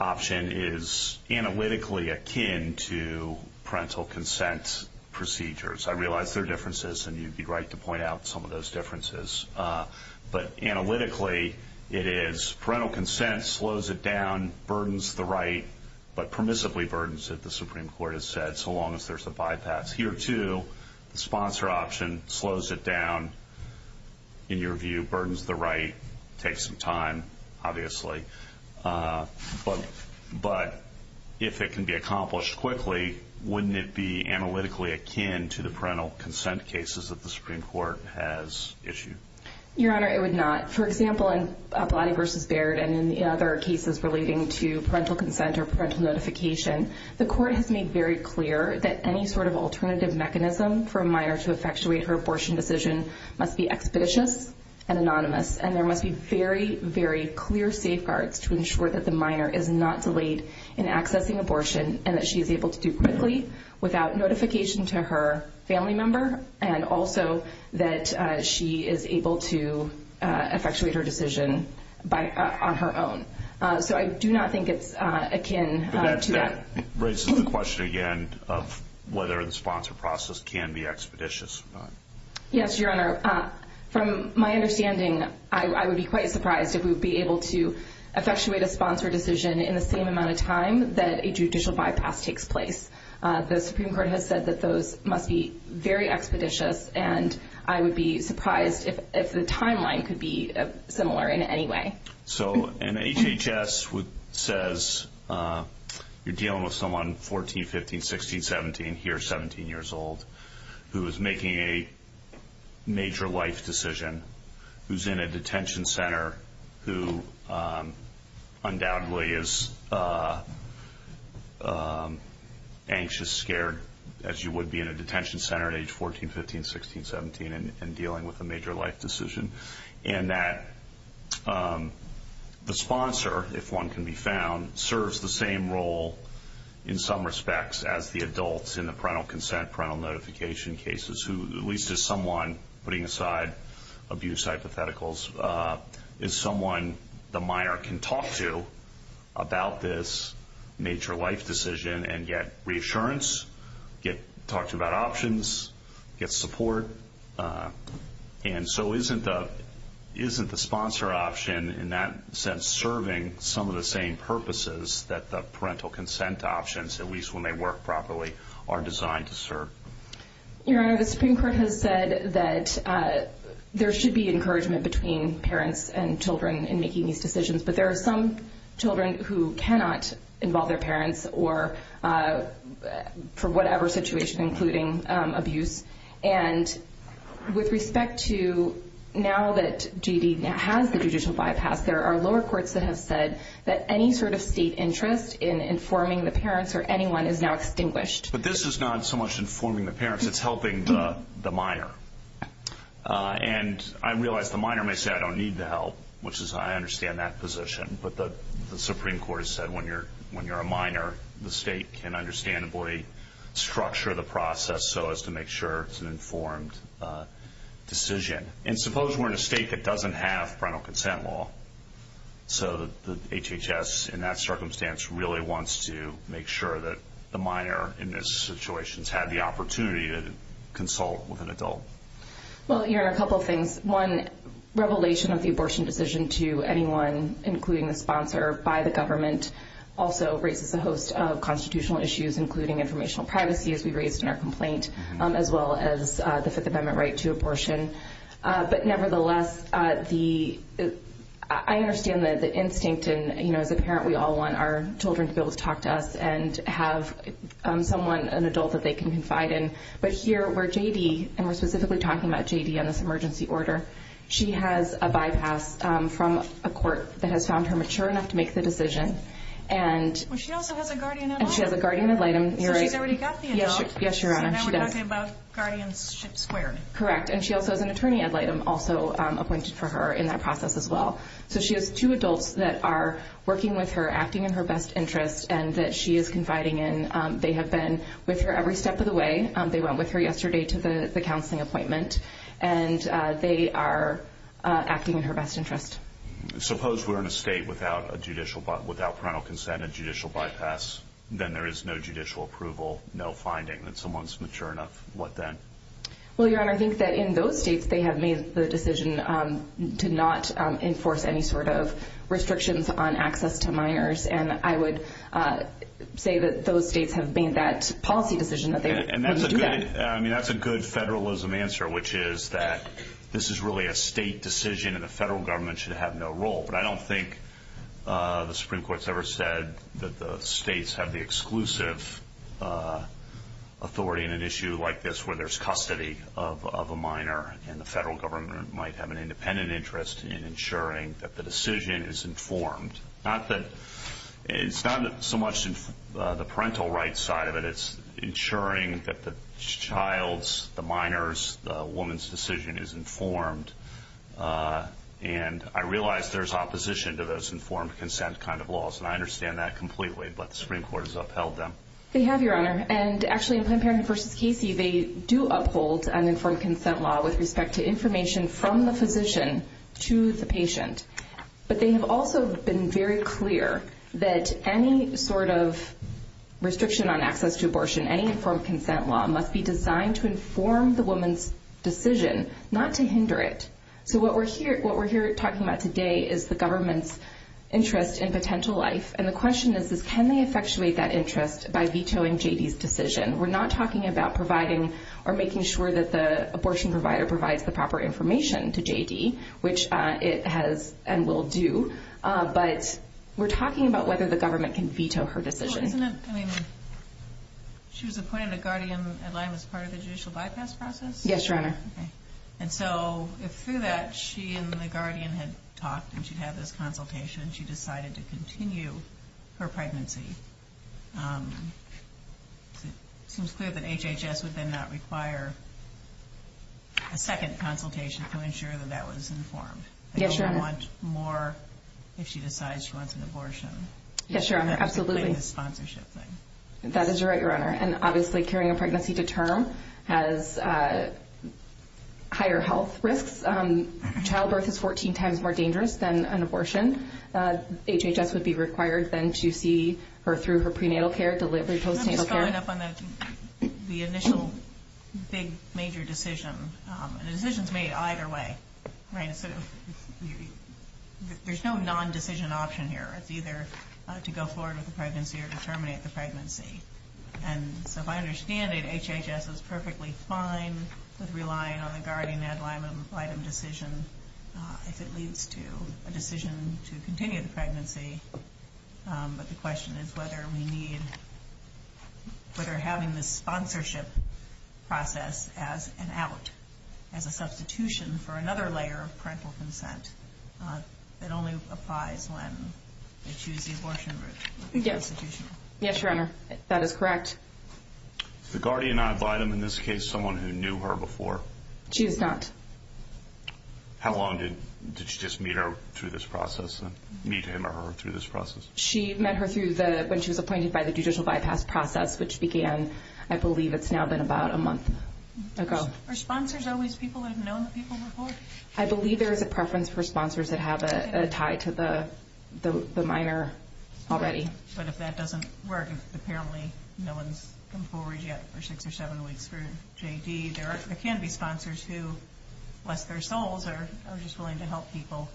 option is analytically akin to parental consent procedures. I realize there are differences, and you'd be right to point out some of those differences. But analytically, it is parental consent slows it down, burdens the right, but permissibly burdens it, the Supreme Court has said, so long as there's a bypass. Here, too, the sponsor option slows it down, in your view, burdens the right, takes some time, obviously. But if it can be accomplished quickly, wouldn't it be analytically akin to the parental consent cases that the Supreme Court has issued? Your Honor, it would not. For example, in Bilotti v. Baird, and in other cases relating to parental consent or parental notification, the Court has made very clear that any sort of alternative mechanism for a minor to effectuate her abortion decision must be expeditious and anonymous. And there must be very, very clear safeguards to ensure that the minor is not delayed in accessing abortion, and that she is able to do it quickly without notification to her family member, and also that she is able to effectuate her decision on her own. So I do not think it's akin to that. That raises the question again of whether the sponsor process can be expeditious. Yes, Your Honor. From my understanding, I would be quite surprised if we would be able to effectuate a sponsor decision in the same amount of time that a judicial bypass takes place. The Supreme Court has said that those must be very expeditious, and I would be surprised if the timeline could be similar in any way. So an HHS says you're dealing with someone 14, 15, 16, 17, he or she is 17 years old who is making a major life decision, who is in a detention center, who undoubtedly is anxious, scared, as you would be in a detention center at age 14, 15, 16, 17, and dealing with a major life decision. And that the sponsor, if one can be found, serves the same role in some respects as the adult in the parental consent, parental notification cases, who at least is someone, putting aside abuse hypotheticals, is someone the minor can talk to about this major life decision and get reassurance, get talked about options, get support. And so isn't the sponsor option in that sense serving some of the same purposes that the parental consent options, at least when they work properly, are designed to serve? Your Honor, the Supreme Court has said that there should be encouragement between parents and children in making these decisions, but there are some children who cannot involve their parents or for whatever situation, including abuse. And with respect to now that Judy has the judicial bypass, there are lower courts that have said that any sort of state interest in informing the parents or anyone is now distinguished. But this is not so much informing the parents, it's helping the minor. And I realize the minor may say, I don't need the help, which is, I understand that position, but the Supreme Court has said when you're a minor, the state can understandably structure the process so as to make sure it's an informed decision. And suppose we're in a state that doesn't have parental consent law, so the HHS in that circumstance really wants to make sure that the minor in this situation has had the opportunity to consult with an adult. Well, Your Honor, a couple of things. One, revelation of the abortion decision to anyone, including a sponsor by the government, also raises a host of constitutional issues, including informational privacy, as we raised in our complaint, as well as the Fifth Amendment right to abortion. But nevertheless, I understand that the instinct in, you know, as a parent, we all want our children to be able to talk to us and have someone, an adult that they can confide in. But here, where J.D., and we're specifically talking about J.D. on this emergency order, she has a bypass from a court that has found her mature enough to make the decision. Well, she also has a guardian ad litem. And she has a guardian ad litem, you're right. She's already got the adult. Yes, Your Honor, she does. And now we're talking about guardianship squared. Correct, and she also has an attorney ad litem also appointed for her in that process as well. So she has two adults that are working with her, acting in her best interest, and that she is confiding in. They have been with her every step of the way. They went with her yesterday to the counseling appointment. And they are acting in her best interest. Suppose we're in a state without parental consent and judicial bypass. Then there is no judicial approval, no finding that someone's mature enough. What then? Well, Your Honor, I think that in those states, they have made the decision to not enforce any sort of restrictions on access to minors. And I would say that those states have made that policy decision. And that's a good federalism answer, which is that this is really a state decision and the federal government should have no role. But I don't think the Supreme Court has ever said that the states have the exclusive authority in an issue like this where there's custody of a minor and the federal government might have an independent interest in ensuring that the decision is informed. It's not so much the parental rights side of it. It's ensuring that the child's, the minor's, the woman's decision is informed. And I realize there's opposition to those informed consent kind of laws. And I understand that completely, but the Supreme Court has upheld them. They have, Your Honor. And actually, in Planned Parenthood v. Casey, they do uphold an informed consent law with respect to information from the physician to the patient. But they've also been very clear that any sort of restriction on access to abortion, any informed consent law must be designed to inform the woman's decision, not to hinder it. So what we're here talking about today is the government's interest in potential life. And the question is, can they effectuate that interest by vetoing J.D.'s decision? We're not talking about providing or making sure that the abortion provider provides the proper information to J.D., which it has and will do. But we're talking about whether the government can veto her decision. I mean, she was appointed to Guardian Atlanta as part of the judicial bypass process? Yes, Your Honor. Okay. And so through that, she and the Guardian had talked and she had this consultation and she decided to continue her pregnancy. It was clear that HHS would then not require a second consultation to ensure that that was informed. Yes, Your Honor. So she wants more if she decides she wants an abortion. Yes, Your Honor. Absolutely. It's a sponsorship thing. That is right, Your Honor. And obviously, carrying a pregnancy to term has higher health risks. Childbirth is 14 times more dangerous than an abortion. HHS would be required then to see her through her prenatal care, delivered to her prenatal care. I'm not sure I'm following up on the initial big major decision. A decision is made either way, right? There's no non-decision option here. It's either to go forward with the pregnancy or to terminate the pregnancy. And so if I understand it, HHS was perfectly fine with relying on the Guardian-Ed Limon-Wightham decision if it leads to a decision to continue the pregnancy. But the question is whether we need, whether having the sponsorship process as an out, as a substitution for another layer of parental consent that only applies when we choose the abortion route. Yes, Your Honor. That is correct. Is the Guardian-Ed Wightham in this case someone who knew her before? She is not. How long did she just meet her through this process, meet him or her through this process? She met her through the, when she was appointed by the judicial bypass process, which began, I believe, it's now been about a month ago. Are sponsors always people who have known the people before? I believe there is a preference for sponsors that have a tie to the minor already. But if that doesn't work, apparently no one's come forward yet for six or seven weeks for JD. There can be sponsors who, bless their souls, are just willing to help people,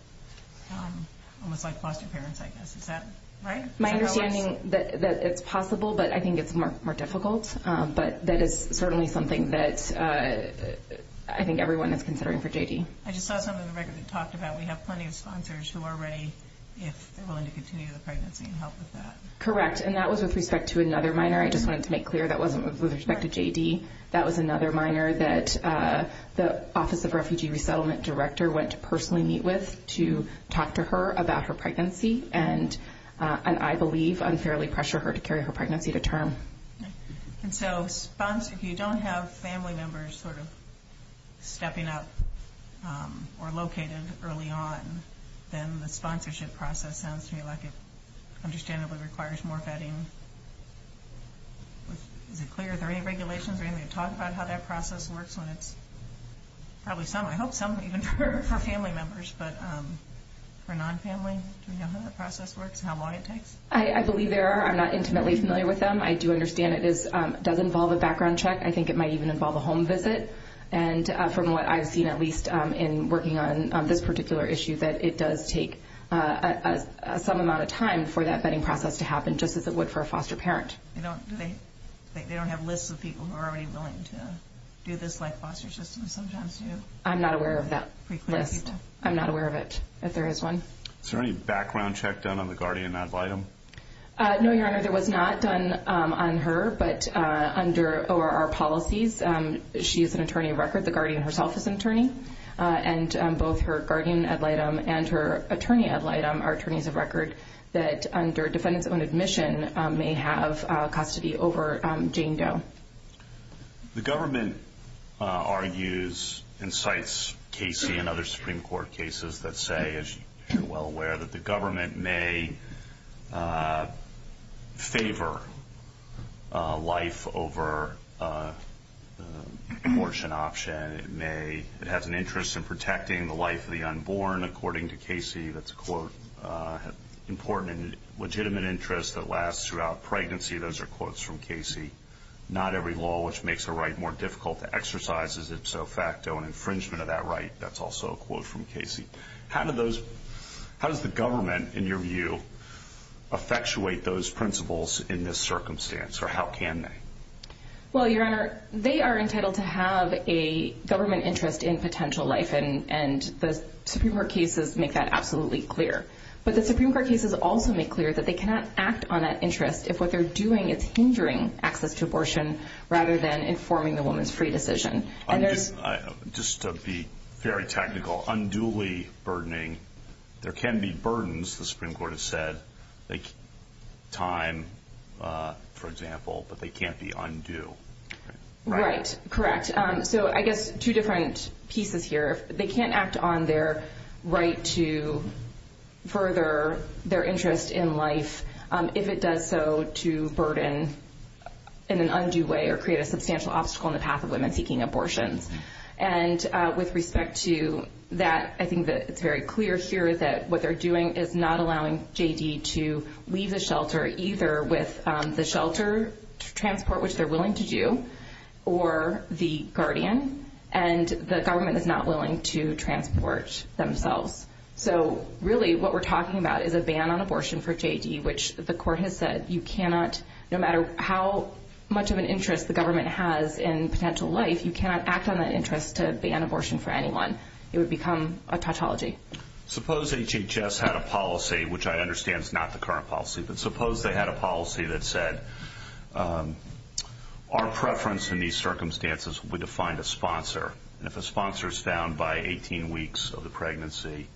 almost like blessed parents, I guess. Is that right? My understanding that it's possible, but I think it's more difficult. But that is certainly something that I think everyone is considering for JD. I just saw something in the record that talked about we have plenty of sponsors who already are willing to continue the pregnancy and help with that. Correct, and that was with respect to another minor. I just wanted to make clear that wasn't with respect to JD. That was another minor that the Office of Refugee Resettlement Director went to personally meet with to talk to her about her pregnancy and, I believe, unfairly pressure her to carry her pregnancy to term. And so, if you don't have family members sort of stepping up or located early on, then the sponsorship process sounds to me like it understandably requires more vetting. Is it clear, is there any regulations or anything to talk about how that process works? Probably some, I hope some, even for family members. But for non-family, do we know how the process works and how long it takes? I believe there are. I'm not intimately familiar with them. I do understand it does involve a background check. I think it might even involve a home visit. And from what I've seen, at least, in working on this particular issue, that it does take some amount of time for that vetting process to happen, just as it would for a foster parent. They don't have lists of people who are already willing to do this by foster system sometimes, do they? I'm not aware of that list. I'm not aware of it, if there is one. Is there any background check done on the Guardian app item? No, Your Honor, there was not done on her. But under ORR policies, she is an attorney of record. The Guardian herself is an attorney. And both her Guardian ad litem and her attorney ad litem are attorneys of record that, under defendant's own admission, may have to be over Jane Doe. The government argues and cites Casey and other Supreme Court cases that say, as you're well aware, that the government may favor life over a abortion option. It has an interest in protecting the life of the unborn, according to Casey. That's an important and legitimate interest that lasts throughout pregnancy. Those are quotes from Casey. Not every law, which makes a right more difficult to exercise, is it so facto an infringement of that right. That's also a quote from Casey. How does the government, in your view, effectuate those principles in this circumstance, or how can they? Well, Your Honor, they are entitled to have a government interest in potential life, and the Supreme Court cases make that absolutely clear. But the Supreme Court cases also make clear that they cannot act on that interest if what they're doing is hindering access to abortion rather than informing the woman's free decision. Just to be very technical, unduly burdening. There can be burdens, the Supreme Court has said, like time, for example, but they can't be undue. Right, correct. So I guess two different pieces here. They can't act on their right to further their interest in life if it does so to burden in an undue way or create a substantial obstacle in the path of women seeking abortion. And with respect to that, I think that it's very clear here that what they're doing is not allowing J.D. to leave the shelter either with the shelter transport, which they're willing to do, or the guardian, and the government is not willing to transport themselves. So really what we're talking about is a ban on abortion for J.D., which the court has said you cannot, no matter how much of an interest the government has in potential life, you cannot act on that interest to ban abortion for anyone. It would become a tautology. Suppose HHS had a policy, which I understand is not the current policy, but suppose they had a policy that said our preference in these circumstances would be to find a sponsor. If a sponsor is found by 18 weeks of the pregnancy,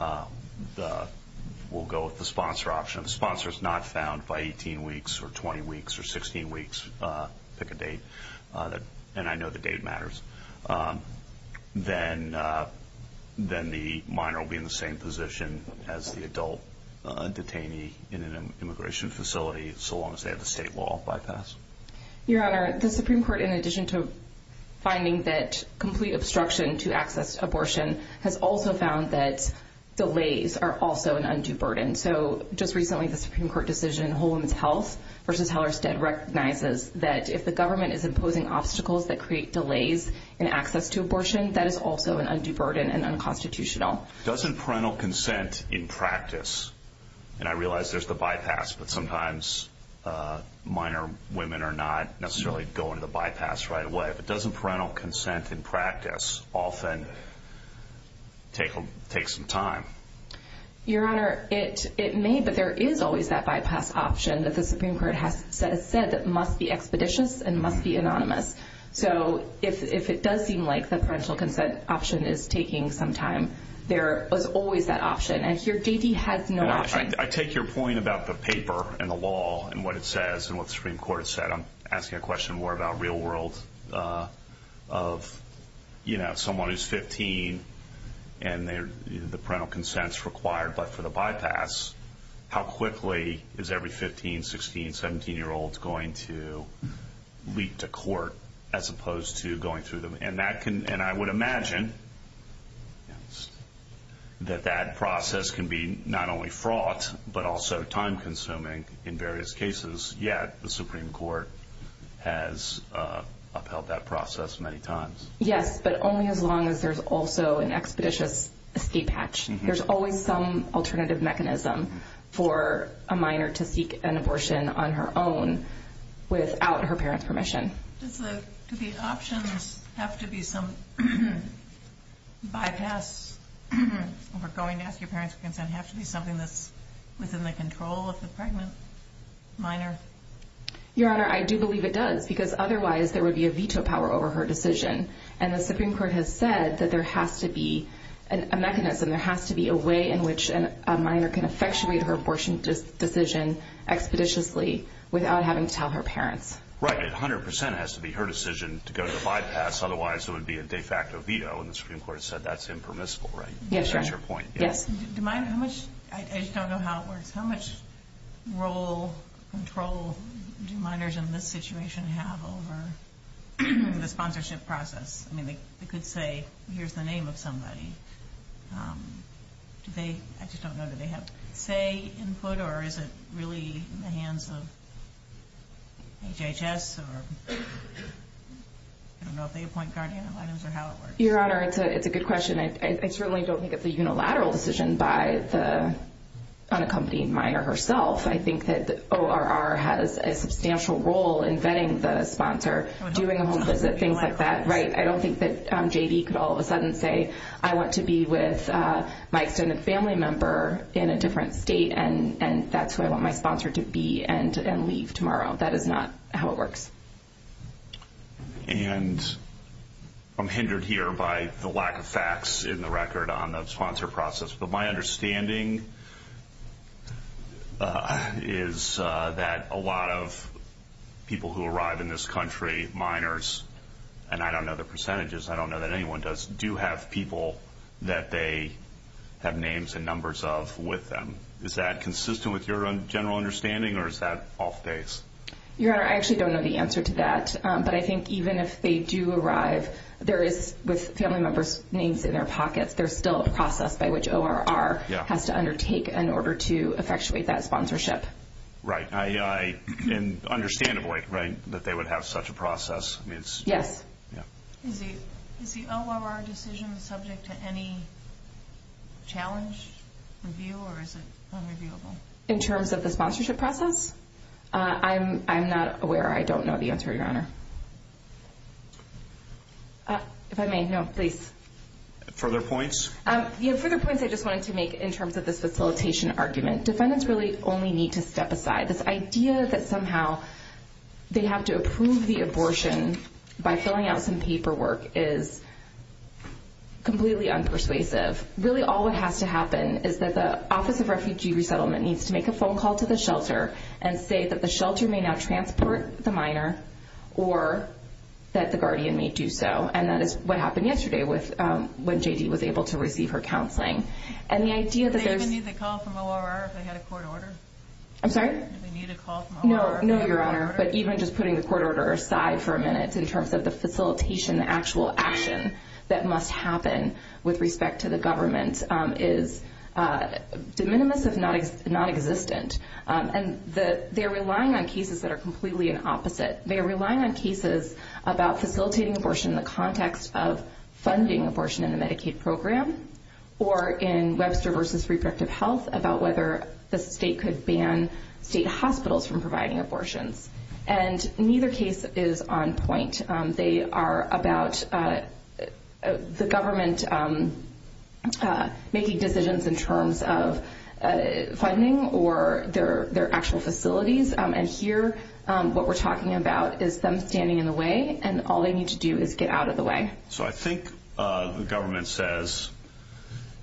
we'll go with the sponsor option. If the sponsor is not found by 18 weeks or 20 weeks or 16 weeks, pick a date, and I know the date matters, then the minor will be in the same position as the adult detainee in an immigration facility so long as they have the state wall bypassed. Your Honor, the Supreme Court, in addition to finding that complete obstruction to access abortion, has also found that delays are also an undue burden. So just recently the Supreme Court decision, Holden's Health versus Hellerstedt, recognizes that if the government is imposing obstacles that create delays in access to abortion, that is also an undue burden and unconstitutional. Doesn't parental consent in practice, and I realize there's the bypass, but sometimes minor women are not necessarily going to the bypass right away, but doesn't parental consent in practice often take some time? Your Honor, it may, but there is always that bypass option that the Supreme Court has said must be expeditious and must be anonymous. So if it does seem like the parental consent option is taking some time, there is always that option. And here J.D. has no option. I take your point about the paper and the law and what it says and what the Supreme Court has said. I'm asking a question more about real world of, you know, someone who's 15 and the parental consent is required, but for the bypass, how quickly is every 15, 16, 17-year-old going to leap to court as opposed to going through them? And I would imagine that that process can be not only fraught, but also time-consuming in various cases, yet the Supreme Court has upheld that process many times. Yes, but only as long as there's also an expeditious state patch. There's always some alternative mechanism for a minor to seek an abortion on her own without her parent's permission. Do these options have to be some bypass for going to ask your parent's consent? Does it have to be something that's within the control of the pregnant minor? Your Honor, I do believe it does because otherwise there would be a veto power over her decision. And the Supreme Court has said that there has to be a mechanism, there has to be a way in which a minor can effectuate her abortion decision expeditiously without having to tell her parents. Right, 100 percent has to be her decision to go to bypass. Otherwise, it would be a de facto veto, and the Supreme Court said that's impermissible, right? Yes, Your Honor. That's your point. Yes. I just don't know how it works. How much role, control do minors in this situation have over the sponsorship process? I mean, they could say, here's the name of somebody. I just don't know that they have say input, or is it really in the hands of HHS, or I don't know if they appoint guardians or how it works. Your Honor, it's a good question. I certainly don't think it's a unilateral decision by the front-of-company minor herself. I think that ORR has a substantial role in vetting the sponsor, doing things like that. Right. I don't think that JD could all of a sudden say, I want to be with my extended family member in a different state, and that's who I want my sponsor to be and leave tomorrow. That is not how it works. And I'm hindered here by the lack of facts in the record on the sponsor process. But my understanding is that a lot of people who arrive in this country, minors, and I don't know the percentages, I don't know that anyone does, do have people that they have names and numbers of with them. Is that consistent with your general understanding, or is that off base? Your Honor, I actually don't know the answer to that. But I think even if they do arrive, there is, with family members' names in their pockets, there's still a process by which ORR has to undertake in order to effectuate that sponsorship. Right. And understandably, right, that they would have such a process. Yes. Is the ORR decision subject to any challenge review, or is it unreviewable? In terms of the sponsorship process? I'm not aware. I don't know the answer, Your Honor. If I may, no, please. Further points? Further points I just wanted to make in terms of the facilitation argument. Defendants really only need to step aside. This idea that somehow they have to approve the abortion by filling out some paperwork is completely unpersuasive. Really all that has to happen is that the Office of Refugee Resettlement needs to make a phone call to the shelter and say that the shelter may not transport the minor or that the guardian may do so. And that is what happened yesterday when J.D. was able to receive her counseling. And the idea that there's- Do they even need the call from ORR if they had a court order? I'm sorry? Do they need a call from ORR? No, Your Honor. But even just putting the court order aside for a minute in terms of the facilitation, the actual action that must happen with respect to the government is de minimis of nonexistent. And they're relying on cases that are completely opposite. They're relying on cases about facilitating abortion in the context of funding abortion in the Medicaid program or in Webster v. Repressive Health about whether a state could ban state hospitals from providing abortion. And neither case is on point. They are about the government making decisions in terms of funding or their actual facilities. And here what we're talking about is them standing in the way, and all they need to do is get out of the way. So I think the government says,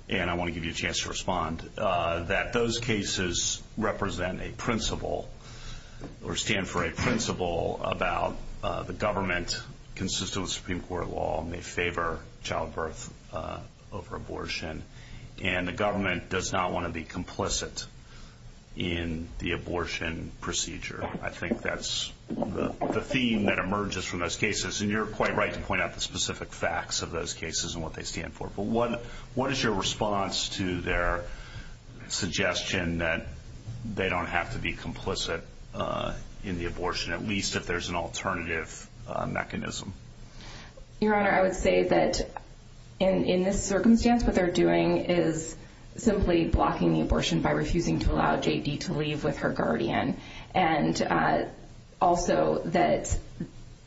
and I want to give you a chance to respond, that those cases represent a principle or stand for a principle about the government, consistent with Supreme Court law, may favor childbirth over abortion. And the government does not want to be complicit in the abortion procedure. I think that's the theme that emerges from those cases. And you're quite right to point out the specific facts of those cases and what they stand for. But what is your response to their suggestion that they don't have to be complicit in the abortion, at least if there's an alternative mechanism? Your Honor, I would say that in this circumstance what they're doing is simply blocking the abortion by refusing to allow J.D. to leave with her guardian. And also that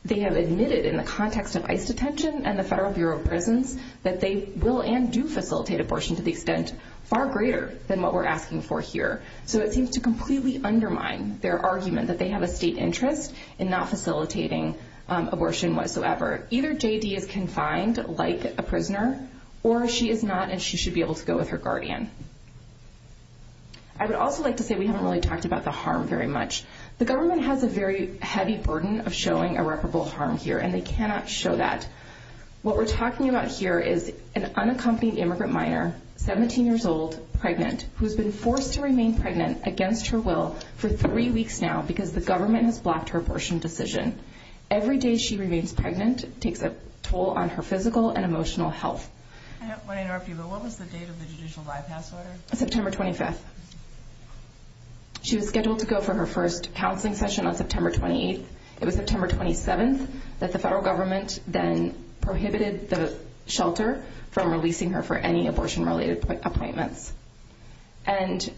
they have admitted in the context of ICE detention and the Federal Bureau of Prisons that they will and do facilitate abortion to the extent far greater than what we're asking for here. So it seems to completely undermine their argument that they have a state interest in not facilitating abortion whatsoever. Either J.D. is confined like a prisoner, or she is not and she should be able to go with her guardian. I would also like to say we haven't really talked about the harm very much. The government has a very heavy burden of showing irreparable harm here, and they cannot show that. What we're talking about here is an unaccompanied immigrant minor, 17 years old, pregnant, who has been forced to remain pregnant against her will for three weeks now because the government has blocked her abortion decision. Every day she remains pregnant takes a toll on her physical and emotional health. I want to interrupt you, but what was the date of the judicial bypass letter? September 25th. She was scheduled to go for her first counseling session on September 28th. It was September 27th that the federal government then prohibited the shelter from releasing her for any abortion-related appointments. And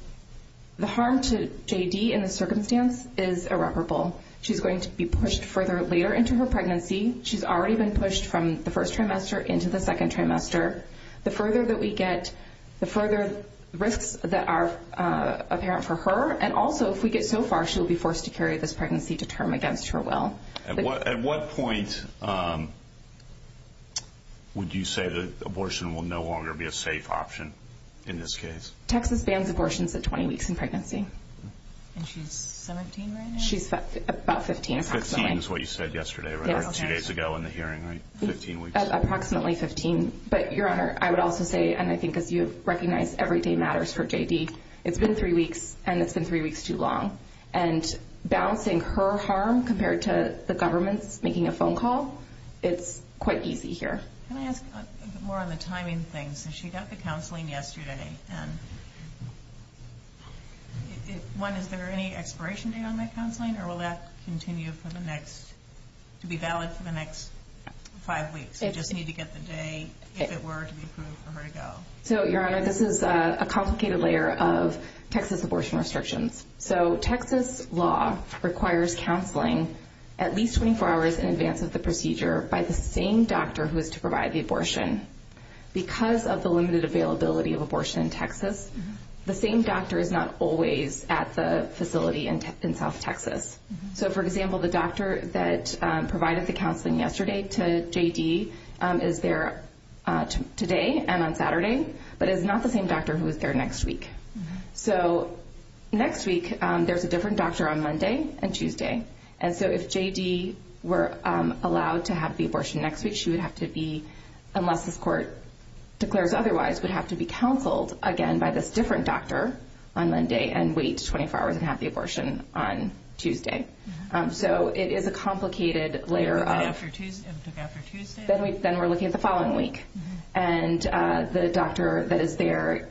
the harm to J.D. in this circumstance is irreparable. She's going to be pushed further later into her pregnancy. She's already been pushed from the first trimester into the second trimester. The further that we get, the further risks that are apparent for her, and also if we get so far, she'll be forced to carry this pregnancy to term against her will. At what point would you say that abortion will no longer be a safe option in this case? Texas bans abortions at 20 weeks in pregnancy. And she's 17 right now? She's about 15 approximately. Fifteen is what you said yesterday, right? Two days ago in the hearing, right? Fifteen weeks. Approximately 15. But, Your Honor, I would also say, and I think you recognize every day matters for J.D., it's been three weeks, and it's been three weeks too long. And balancing her harm compared to the government making a phone call, it's quite easy here. Can I ask more on the timing thing? So she got the counseling yesterday. One, is there any expiration date on that counseling, or will that continue to be valid for the next five weeks? They just need to get the date, if it were, to be approved for her to go. So, Your Honor, this is a complicated layer of Texas abortion restrictions. So Texas law requires counseling at least 24 hours in advance of the procedure by the same doctor who is to provide the abortion. Because of the limited availability of abortion in Texas, the same doctor is not always at the facility in South Texas. So, for example, the doctor that provided the counseling yesterday to J.D. is there today and on Saturday, but is not the same doctor who is there next week. So next week, there's a different doctor on Monday and Tuesday. And so if J.D. were allowed to have the abortion next week, she would have to be, unless this court declares otherwise, would have to be counseled again by this different doctor on Monday and wait 24 hours and have the abortion on Tuesday. So it is a complicated layer. Is it after Tuesday? Then we're looking at the following week. And the doctor that is there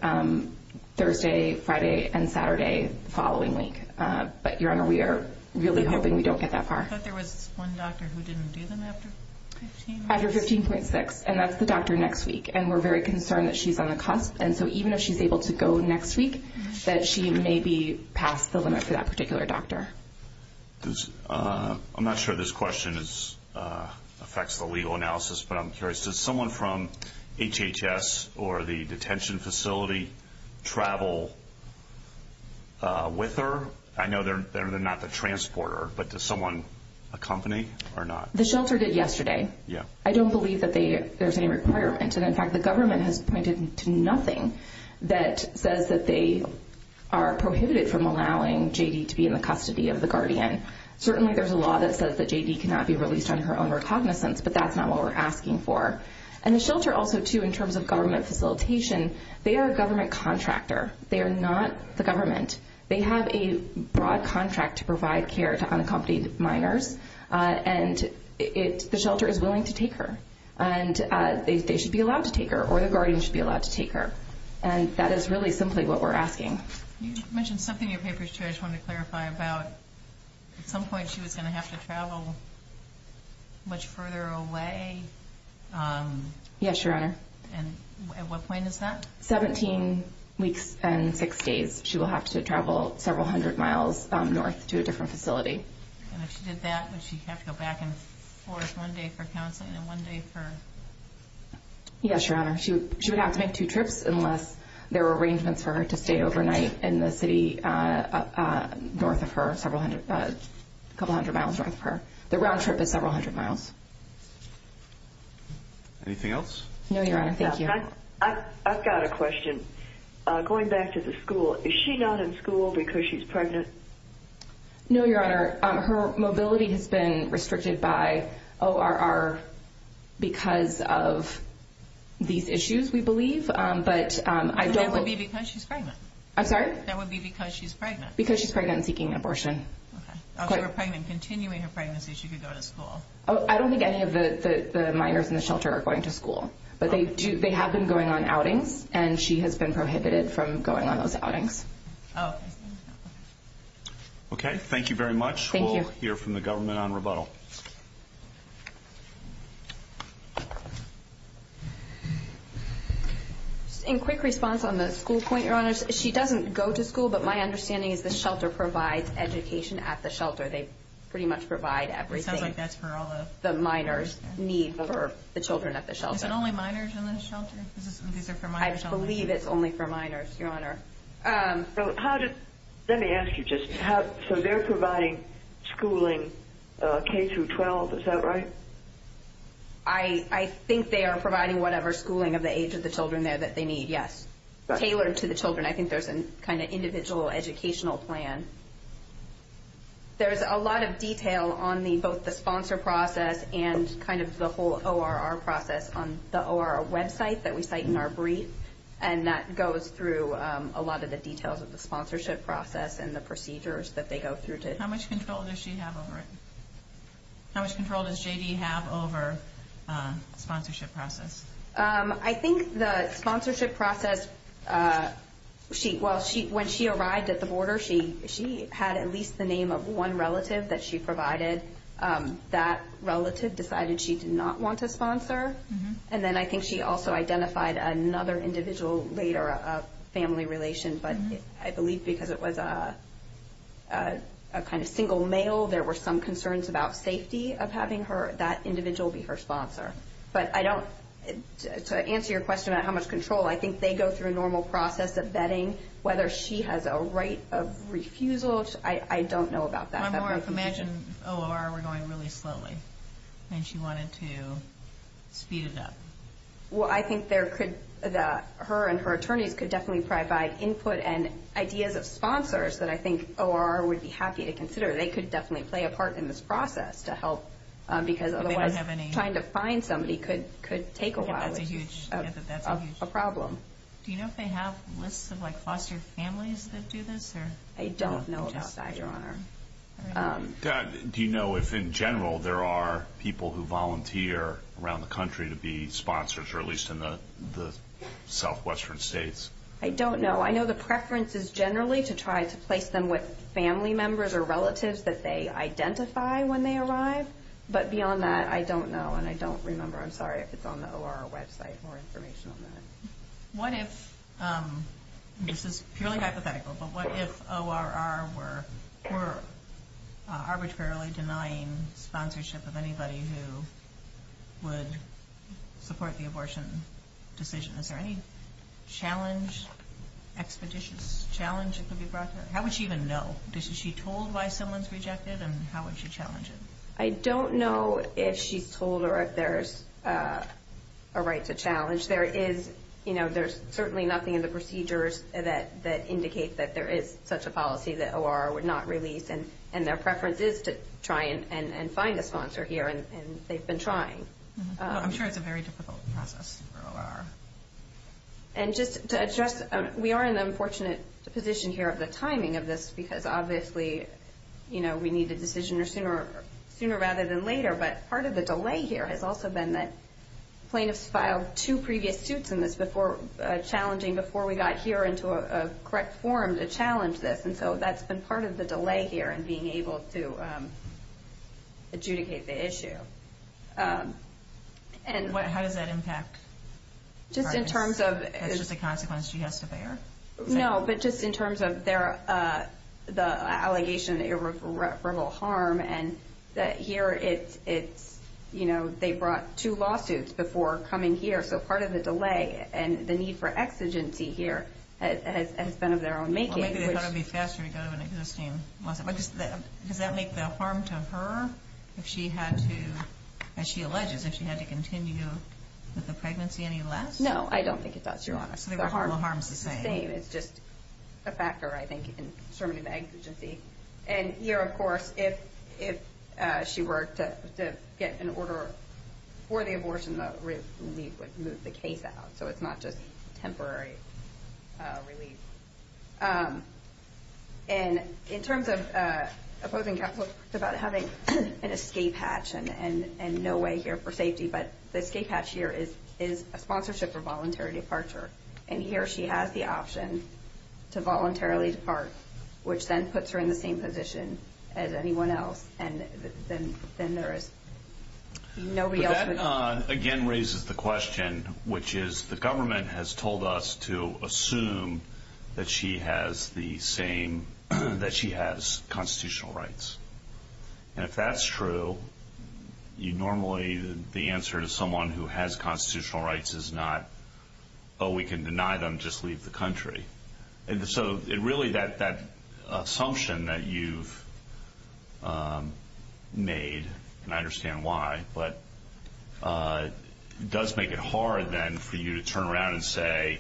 Thursday, Friday, and Saturday is the following week. But, Your Honor, we are really hoping we don't get that far. I thought there was one doctor who didn't do them after 15. After 15.6, and that's the doctor next week. And we're very concerned that she's on the cusp. And so even if she's able to go next week, that she may be past the limit for that particular doctor. I'm not sure this question affects the legal analysis, but I'm curious. Does someone from HHS or the detention facility travel with her? I know they're not the transporter, but does someone accompany or not? The shelter did yesterday. I don't believe that there's any requirement. And, in fact, the government has pointed to nothing that says that they are prohibited from allowing J.D. to be in the custody of the guardian. Certainly there's a law that says that J.D. cannot be released on her own recognizance, but that's not what we're asking for. And the shelter also, too, in terms of government facilitation, they are a government contractor. They are not the government. They have a broad contract to provide care to unaccompanied minors, and the shelter is willing to take her. And they should be allowed to take her, or the guardian should be allowed to take her. And that is really simply what we're asking. You mentioned something in your papers too I just wanted to clarify about. At some point she was going to have to travel much further away. Yes, Your Honor. And at what point is that? Seventeen weeks and six days. She will have to travel several hundred miles north to a different facility. And if she did that, would she have to go back and forth one day for counseling and one day for... Yes, Your Honor. She would have to make two trips unless there were arrangements for her to stay overnight in the city north of her, a couple hundred miles north of her. The round trip is several hundred miles. Anything else? No, Your Honor. Thank you. I've got a question. Going back to the school, is she not in school because she's pregnant? No, Your Honor. Her mobility has been restricted by ORR because of these issues, we believe. But I don't... That would be because she's pregnant. I'm sorry? That would be because she's pregnant. Because she's pregnant and seeking abortion. Okay. If she were pregnant, continuing her pregnancy, she could go to school. I don't think any of the minors in the shelter are going to school. But they have been going on outings, and she has been prohibited from going on those outings. Oh. Okay. Thank you very much. Thank you. We'll hear from the government on rebuttal. In quick response on the school point, Your Honor, she doesn't go to school, but my understanding is the shelter provides education at the shelter. They pretty much provide everything. It sounds like that's for all the... The minors' needs for the children at the shelter. Is it only minors in the shelter? I believe it's only for minors, Your Honor. So how does... Let me ask you just how... So they're providing schooling K through 12. Is that right? I think they are providing whatever schooling of the age of the children there that they need, yes, tailored to the children. I think there's a kind of individual educational plan. There's a lot of detail on both the sponsor process and kind of the whole ORR process on the ORR website that we cite in our brief, and that goes through a lot of the details of the sponsorship process and the procedures that they go through. How much control does she have over it? How much control does J.D. have over sponsorship process? I think the sponsorship process, when she arrived at the border, she had at least the name of one relative that she provided. That relative decided she did not want to sponsor, and then I think she also identified another individual later of family relations, but I believe because it was a kind of single male, there were some concerns about safety of having that individual be her sponsor. But I don't... To answer your question about how much control, I think they go through a normal process of vetting whether she has a right of refusal. I don't know about that. One more information. The ORR were going really slowly, and she wanted to speed it up. Well, I think that her and her attorney could definitely provide input and ideas of sponsors that I think ORR would be happy to consider. They could definitely play a part in this process to help, because otherwise trying to find somebody could take a lot of a problem. Do you know if they have a list of foster families that do this? I don't know about that, Your Honor. Do you know if, in general, there are people who volunteer around the country to be sponsors, or at least in the southwestern states? I don't know. I know the preference is generally to try to place them with family members or relatives that they identify when they arrive. But beyond that, I don't know, and I don't remember. I'm sorry if it's on the ORR website for information on that. What if, this is purely hypothetical, but what if ORR were arbitrarily denying sponsorship of anybody who would support the abortion decision? Is there any challenge, expeditious challenge that would be brought to that? How would she even know? Is she told why someone's rejected, and how would she challenge it? I don't know if she's told or if there's a right to challenge. There is, you know, there's certainly nothing in the procedures that indicates that there is such a policy that ORR would not release, and their preference is to try and find a sponsor here, and they've been trying. I'm sure it's a very difficult process for ORR. And just to address, we are in an unfortunate position here of the timing of this, because obviously, you know, we need the decision sooner rather than later. But part of the delay here has also been that plaintiffs filed two previous suits, and it's challenging before we got here into a correct form to challenge this. And so that's been part of the delay here in being able to adjudicate the issue. How does that impact? Just in terms of... Is that just a consequence she has to bear? No, but just in terms of the allegation of irreparable harm, and that here it's, you know, they brought two lawsuits before coming here, so part of the delay and the need for exigency here has been of their own making. Well, maybe they thought it would be faster to go to an existing lawsuit. Does that make the harm to her if she had to, as she alleged, that she had to continue with the pregnancy any less? No, I don't think it does, Your Honor. The harm is the same. The harm is the same. It's just a factor, I think, in terms of the exigency. And here, of course, if she were to get an order for the abortion, that would remove the case out, so it's not just temporary release. And in terms of opposing counsel, it's about having an escape hatch and no way here for safety, but the escape hatch here is a sponsorship for voluntary departure, and here she has the option to voluntarily depart, which then puts her in the same position as anyone else. And then there is nobody else. But that, again, raises the question, which is the government has told us to assume that she has the same, that she has constitutional rights. And if that's true, you normally, the answer to someone who has constitutional rights is not, oh, we can deny them, just leave the country. So really that assumption that you've made, and I understand why, but it does make it hard then for you to turn around and say,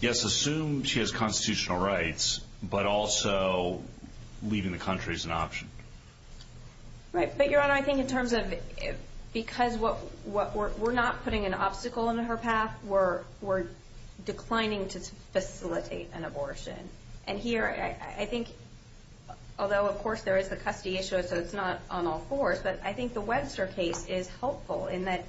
yes, assume she has constitutional rights, but also leaving the country is an option. Right. But, Your Honor, I think in terms of because we're not putting an obstacle in her path, we're declining to facilitate an abortion. And here, I think, although, of course, there is a custody issue, so it's not on all fours, but I think the Webster case is helpful in that,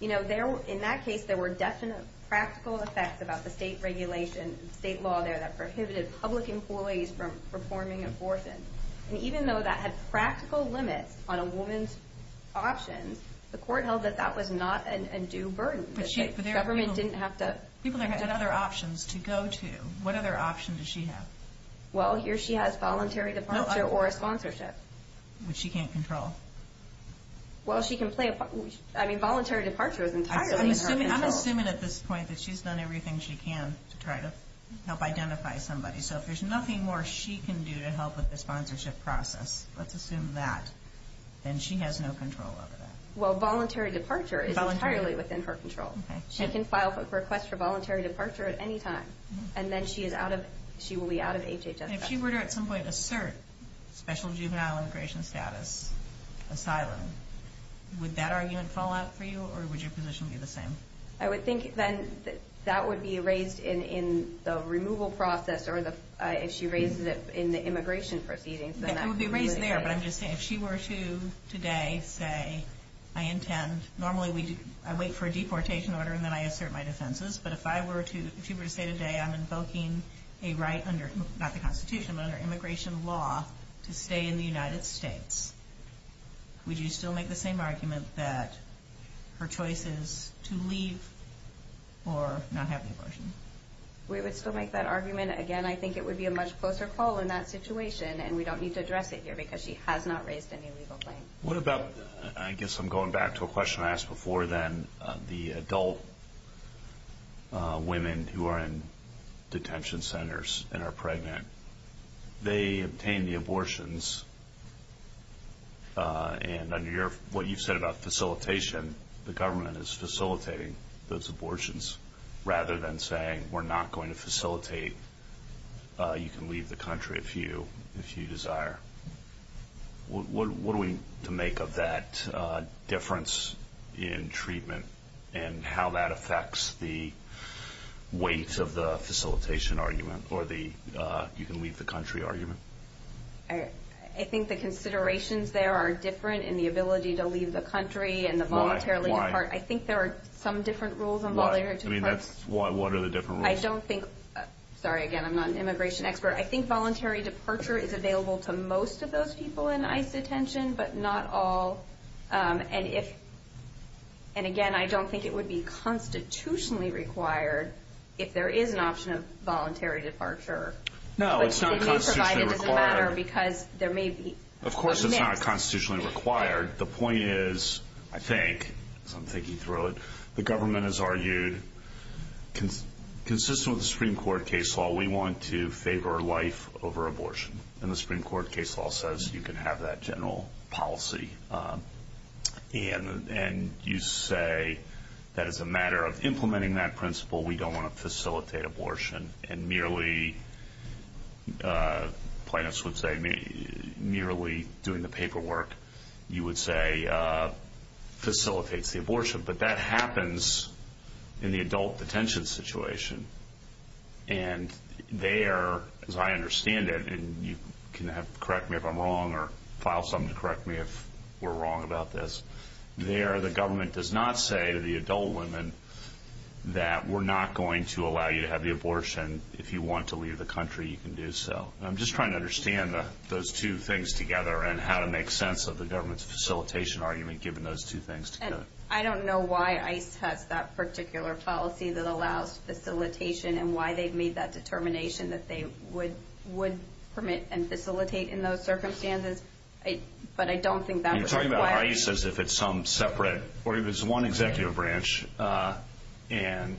you know, in that case, there were definite practical effects about the state regulations and state law there that prohibited public employees from performing abortions. And even though that had practical limits on a woman's option, the court held that that was not a due burden. The government didn't have to. People had other options to go to. What other options does she have? Well, here she has voluntary departure or a sponsorship. Which she can't control. Well, she can play, I mean, voluntary departure is entirely. I'm assuming at this point that she's done everything she can to try to help identify somebody. So if there's nothing more she can do to help with the sponsorship process, let's assume that, then she has no control over that. Well, voluntary departure is entirely within her control. She can file for a request for voluntary departure at any time. And then she is out of, she will be out of HHS. If she were to at some point assert special juvenile immigration status, asylum, would that argument fall out for you, or would your position be the same? I would think then that would be raised in the removal process, or if she raised it in the immigration proceedings. It would be raised there. But I'm just saying, if she were to today say, I intend, normally I wait for a deportation order and then I assert my defenses. But if I were to say today I'm invoking a right under, not the Constitution, but under immigration law to stay in the United States, would you still make the same argument that her choice is to leave or not have an abortion? We would still make that argument. Again, I think it would be a much closer call in that situation. And we don't need to address it here because she has not raised any legal claims. What about, I guess I'm going back to a question I asked before then, the adult women who are in detention centers and are pregnant, they obtain the abortions. And under what you said about facilitation, the government is facilitating those abortions. Rather than saying we're not going to facilitate, you can leave the country if you desire. What are we to make of that difference in treatment and how that affects the weight of the facilitation argument or the you can leave the country argument? I think the considerations there are different in the ability to leave the country and the voluntary part. Why? I think there are some different rules involved. Why? What are the different rules? I don't think, sorry again, I'm not an immigration expert. I think voluntary departure is available to most of those people in ICE detention, but not all. And, again, I don't think it would be constitutionally required if there is an option of voluntary departure. No, it's not constitutionally required. Of course it's not constitutionally required. The point is, I think, as I'm thinking through it, the government has argued, consistent with the Supreme Court case law, we want to favor life over abortion. And the Supreme Court case law says you can have that general policy. And you say that it's a matter of implementing that principle. We don't want to facilitate abortion. And merely, plaintiffs would say, merely doing the paperwork you would say facilitates the abortion. But that happens in the adult detention situation. And there, as I understand it, and you can correct me if I'm wrong or file something to correct me if we're wrong about this, there the government does not say to the adult women that we're not going to allow you to have the abortion. If you want to leave the country, you can do so. I'm just trying to understand those two things together and how to make sense of the government's facilitation argument given those two things together. And I don't know why ICE has that particular policy that allows facilitation and why they've made that determination that they would permit and facilitate in those circumstances. But I don't think that's why. You're talking about ICE as if it's some separate, or it was one executive branch. And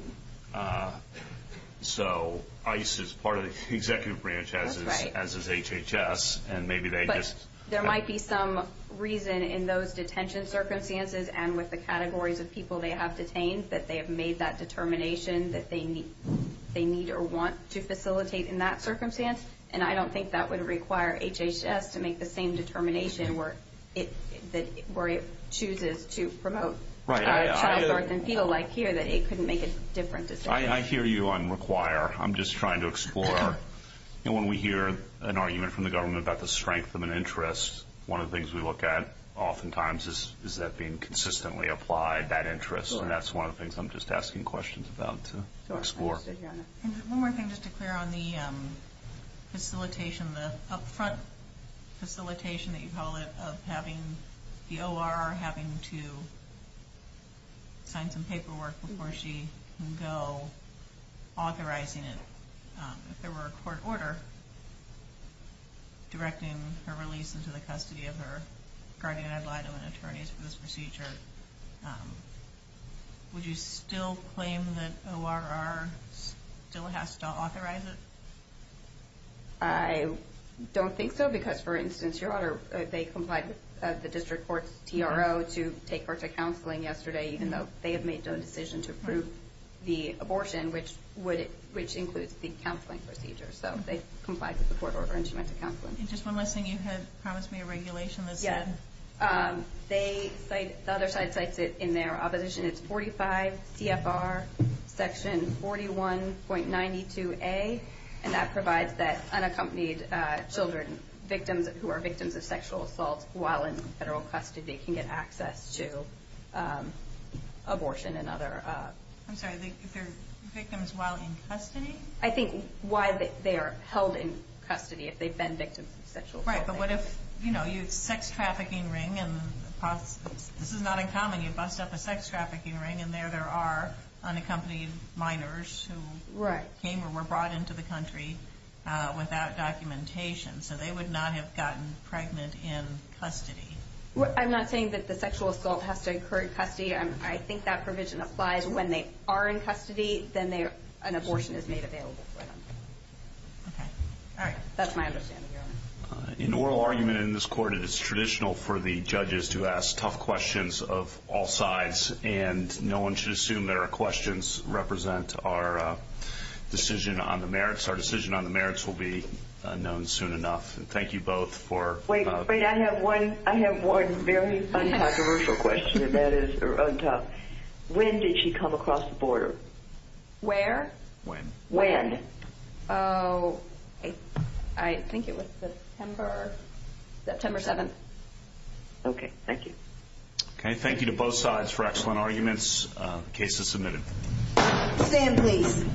so ICE is part of the executive branch as is HHS. But there might be some reason in those detention circumstances and with the categories of people they have detained that they have made that determination that they need or want to facilitate in that circumstance. And I don't think that would require HHS to make the same determination where it chooses to promote categories and feel like here that it couldn't make a difference. I hear you on require. I'm just trying to explore. When we hear an argument from the government about the strength of an interest, one of the things we look at oftentimes is that being consistently applied, that interest. And that's one of the things I'm just asking questions about to explore. One more thing just to clear on the facilitation, the up-front facilitation that you call it of having the OR having to sign some paperwork before she can go authorizing it. If there were a court order directing her release into the custody of her guardian ad litem and attorneys for this procedure, would you still claim that ORR still has to authorize it? I don't think so because, for instance, your order if they comply with the district court PRO to take her to counseling yesterday even though they have made the decision to approve the abortion, which includes the counseling procedure. So they comply with the court order and she went to counseling. And just one last thing. You had promised me a regulation. Yeah. The other side cites it in there. Opposition is 45 CFR section 41.92A, and that provides that unaccompanied children who are victims of sexual assault while in federal custody can get access to abortion and other. I'm sorry, they're victims while in custody? I think while they're held in custody if they've been victims of sexual assault. Right. But what if, you know, you have a sex trafficking ring, and this is not uncommon, you bust up a sex trafficking ring, and there there are unaccompanied minors who came or were brought into the country without documentation. So they would not have gotten pregnant in custody. I'm not saying that the sexual assault has to occur in custody. I think that provision applies when they are in custody, then an abortion is made available for them. Okay. All right. That's my understanding. In the oral argument in this court, it is traditional for the judges to ask tough questions of all sides, and no one should assume that our questions represent our decision on the merits. The merits will be known soon enough. Thank you both for... Wait, wait, I have one very controversial question that is untouched. When did she come across the border? Where? When? When? Oh, I think it was September. September 7th. Okay. Thank you. Okay. Thank you to both sides for excellent arguments. The case is submitted. Stand please.